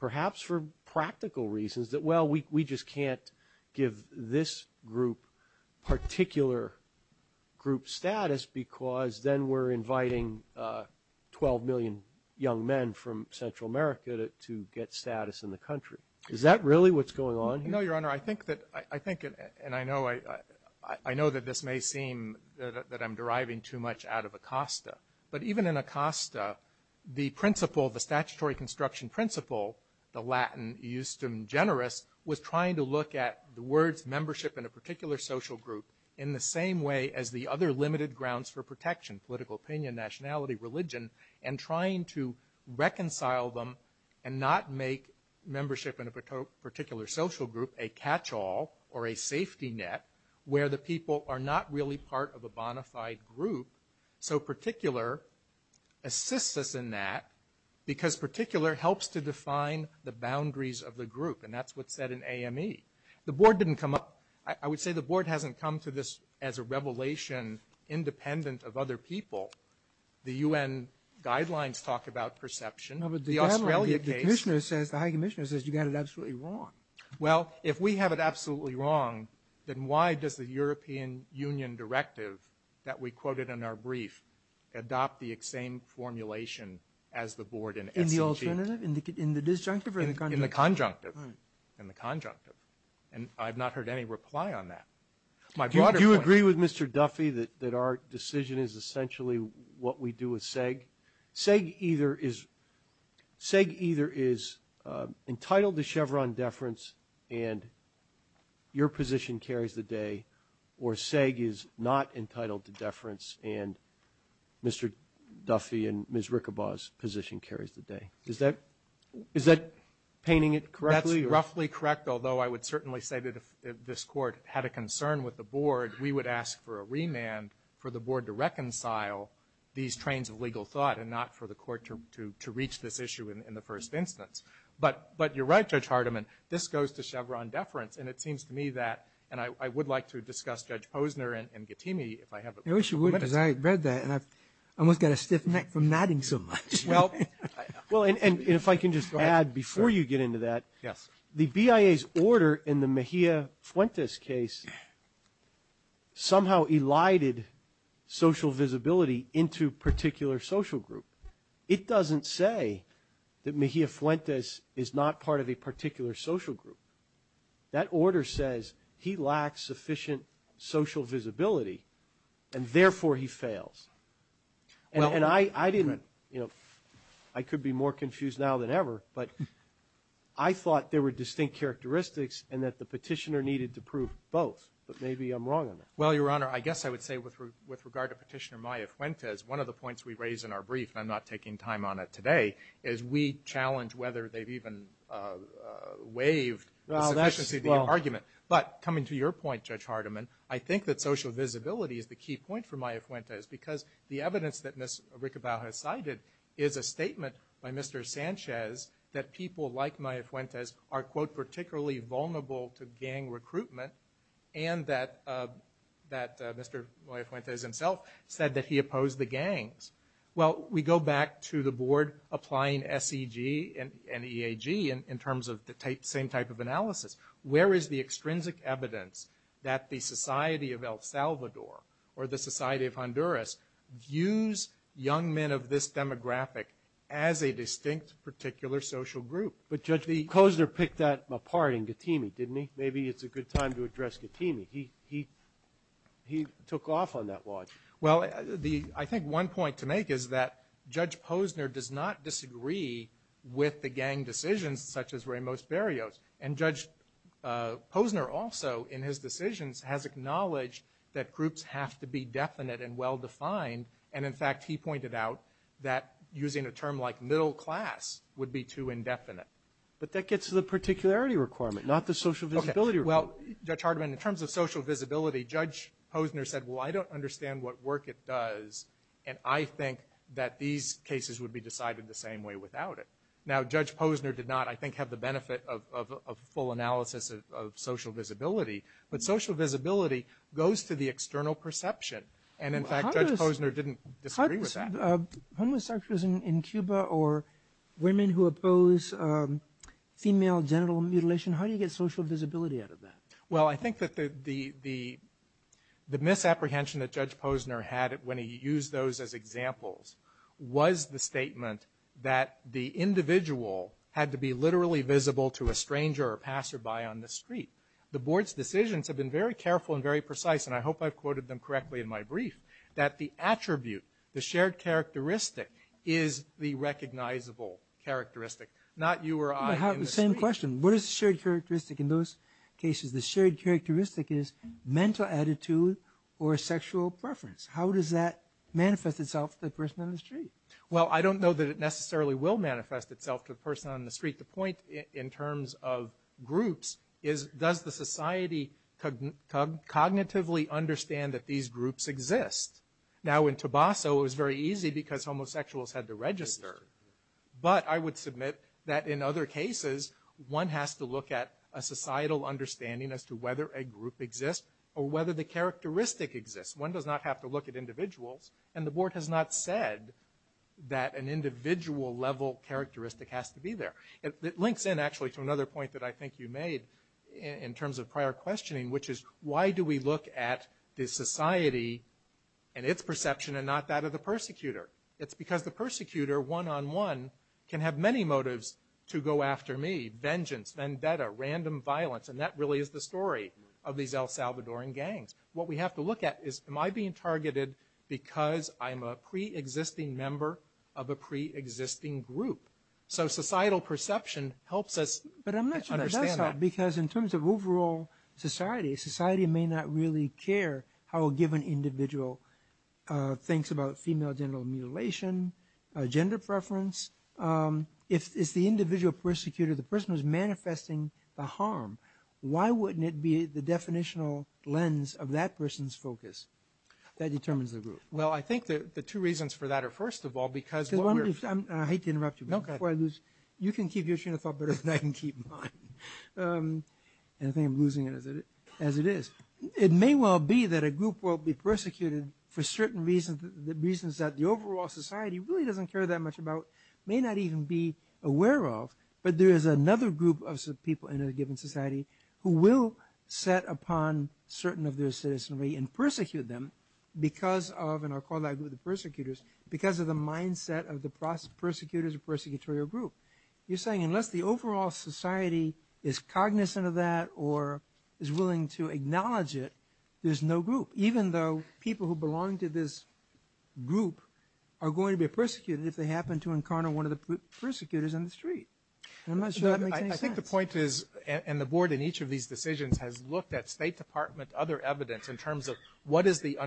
perhaps for practical reasons, that, well, we just can't give this group particular group status because then we're inviting 12 million young men from Central America to get status in the country. Is that really what's going on here? No, Your Honor. I think that, and I know that this may seem that I'm deriving too much out of Acosta. But even in Acosta, the principle, the statutory construction principle, the Latin, was trying to look at the words membership in a particular social group in the same way as the other limited grounds for protection, political opinion, nationality, religion, and trying to reconcile them and not make membership in a particular social group a catch-all or a safety net where the people are not really part of a bona fide group. So particular assists us in that because particular helps to define the boundaries of the group, and that's what's said in AME. The board didn't come up, I would say the board hasn't come to this as a revelation independent of other people. The UN guidelines talk about perception. No, but the guidelines, the commissioner says, the high commissioner says you've got it absolutely wrong. Well, if we have it absolutely wrong, then why does the European Union directive that we quoted in our brief adopt the same formulation as the board? In the alternative, in the disjunctive or in the conjunctive? In the conjunctive, in the conjunctive. And I've not heard any reply on that. Do you agree with Mr. Duffy that our decision is essentially what we do with SEG? SEG either is entitled to Chevron deference and your position carries the day, or SEG is not entitled to deference and Mr. Duffy and Ms. Rickabaw's position carries the day. Is that painting it correctly? It's roughly correct, although I would certainly say that if this court had a concern with the board, we would ask for a remand for the board to reconcile these trains of legal thought and not for the court to reach this issue in the first instance. But you're right, Judge Hardiman, this goes to Chevron deference, and it seems to me that, and I would like to discuss Judge Posner and Gettyme if I have the privilege. I wish you would, because I read that and I almost got a stiff neck from nodding so much. Well, and if I can just add before you get into that, the BIA's order in the Mejia-Fuentes case somehow elided social visibility into particular social group. It doesn't say that Mejia-Fuentes is not part of a particular social group. That order says he lacks sufficient social visibility and therefore he fails. And I didn't, you know, I could be more confused now than ever, but I thought there were distinct characteristics and that the petitioner needed to prove both. But maybe I'm wrong on that. Well, Your Honor, I guess I would say with regard to Petitioner Mejia-Fuentes, one of the points we raised in our brief, and I'm not taking time on it today, is we challenge whether they've even waived the argument. But coming to your point, Judge Hardiman, I think that social visibility is the key point for Mejia-Fuentes because the evidence that Ms. Ricabal has cited is a statement by Mr. Sanchez that people like Mejia-Fuentes are, quote, particularly vulnerable to gang recruitment, and that Mr. Mejia-Fuentes himself said that he opposed the gangs. Well, we go back to the board applying SEG and EAG in terms of the same type of analysis. Where is the extrinsic evidence that the Society of El Salvador or the Society of Honduras use young men of this demographic as a distinct particular social group? But Judge Posner picked that apart in Getimi, didn't he? Maybe it's a good time to address Getimi. He took off on that launch. Well, I think one point to make is that Judge Posner does not disagree with the gang decisions such as Ramos-Barrios, and Judge Posner also in his decisions has acknowledged that groups have to be definite and well-defined, and in fact he pointed out that using a term like middle class would be too indefinite. But that gets to the particularity requirement, not the social visibility requirement. Well, Judge Hardiman, in terms of social visibility, Judge Posner said, well, I don't understand what work it does, and I think that these cases would be decided the same way without it. Now, Judge Posner did not, I think, have the benefit of full analysis of social visibility, but social visibility goes to the external perception, and in fact Judge Posner didn't disagree with that. Homosexuals in Cuba or women who oppose female genital mutilation, how do you get social visibility out of that? Well, I think that the misapprehension that Judge Posner had when he used those as examples was the statement that the individual had to be literally visible to a stranger or passerby on the street. The board's decisions have been very careful and very precise, and I hope I've quoted them correctly in my brief, that the attribute, the shared characteristic, is the recognizable characteristic, not you or I. I have the same question. What is the shared characteristic in those cases? The shared characteristic is mental attitude or sexual preference. How does that manifest itself to the person on the street? Well, I don't know that it necessarily will manifest itself to the person on the street. The point in terms of groups is does the society cognitively understand that these groups exist? Now, in Tobasso it was very easy because homosexuals had to register, but I would submit that in other cases one has to look at a societal understanding as to whether a group exists or whether the characteristic exists. One does not have to look at individuals, and the board has not said that an individual-level characteristic has to be there. It links in, actually, to another point that I think you made in terms of prior questioning, which is why do we look at the society and its perception and not that of the persecutor? It's because the persecutor, one-on-one, can have many motives to go after me, vengeance, vendetta, random violence, and that really is the story of these El Salvadoran gangs. What we have to look at is am I being targeted because I'm a preexisting member of a preexisting group? So societal perception helps us understand that. But I'm not sure that's how because in terms of overall society, society may not really care how a given individual thinks about female genital mutilation, gender preference, if the individual persecutor, the person who's manifesting the harm, why wouldn't it be the definitional lens of that person's focus that determines the group? Well, I think the two reasons for that are, first of all, because what we're... I hate to interrupt you, but before I lose, you can keep your train of thought better than I can keep mine. And I think I'm losing it as it is. It may well be that a group will be persecuted for certain reasons, the reasons that the overall society really doesn't care that much about, may not even be aware of, but there is another group of people in a given society who will set upon certain of their citizenry and persecute them because of, and I'll call that group the persecutors, because of the mindset of the persecutors or persecutorial group. You're saying unless the overall society is cognizant of that or is willing to acknowledge it, there's no group, even though people who belong to this group are going to be persecuted if they happen to encounter one of the persecutors in the street. I'm not sure that makes any sense. I think the point is, and the board in each of these decisions has looked at State Department, other evidence in terms of what is the underlying...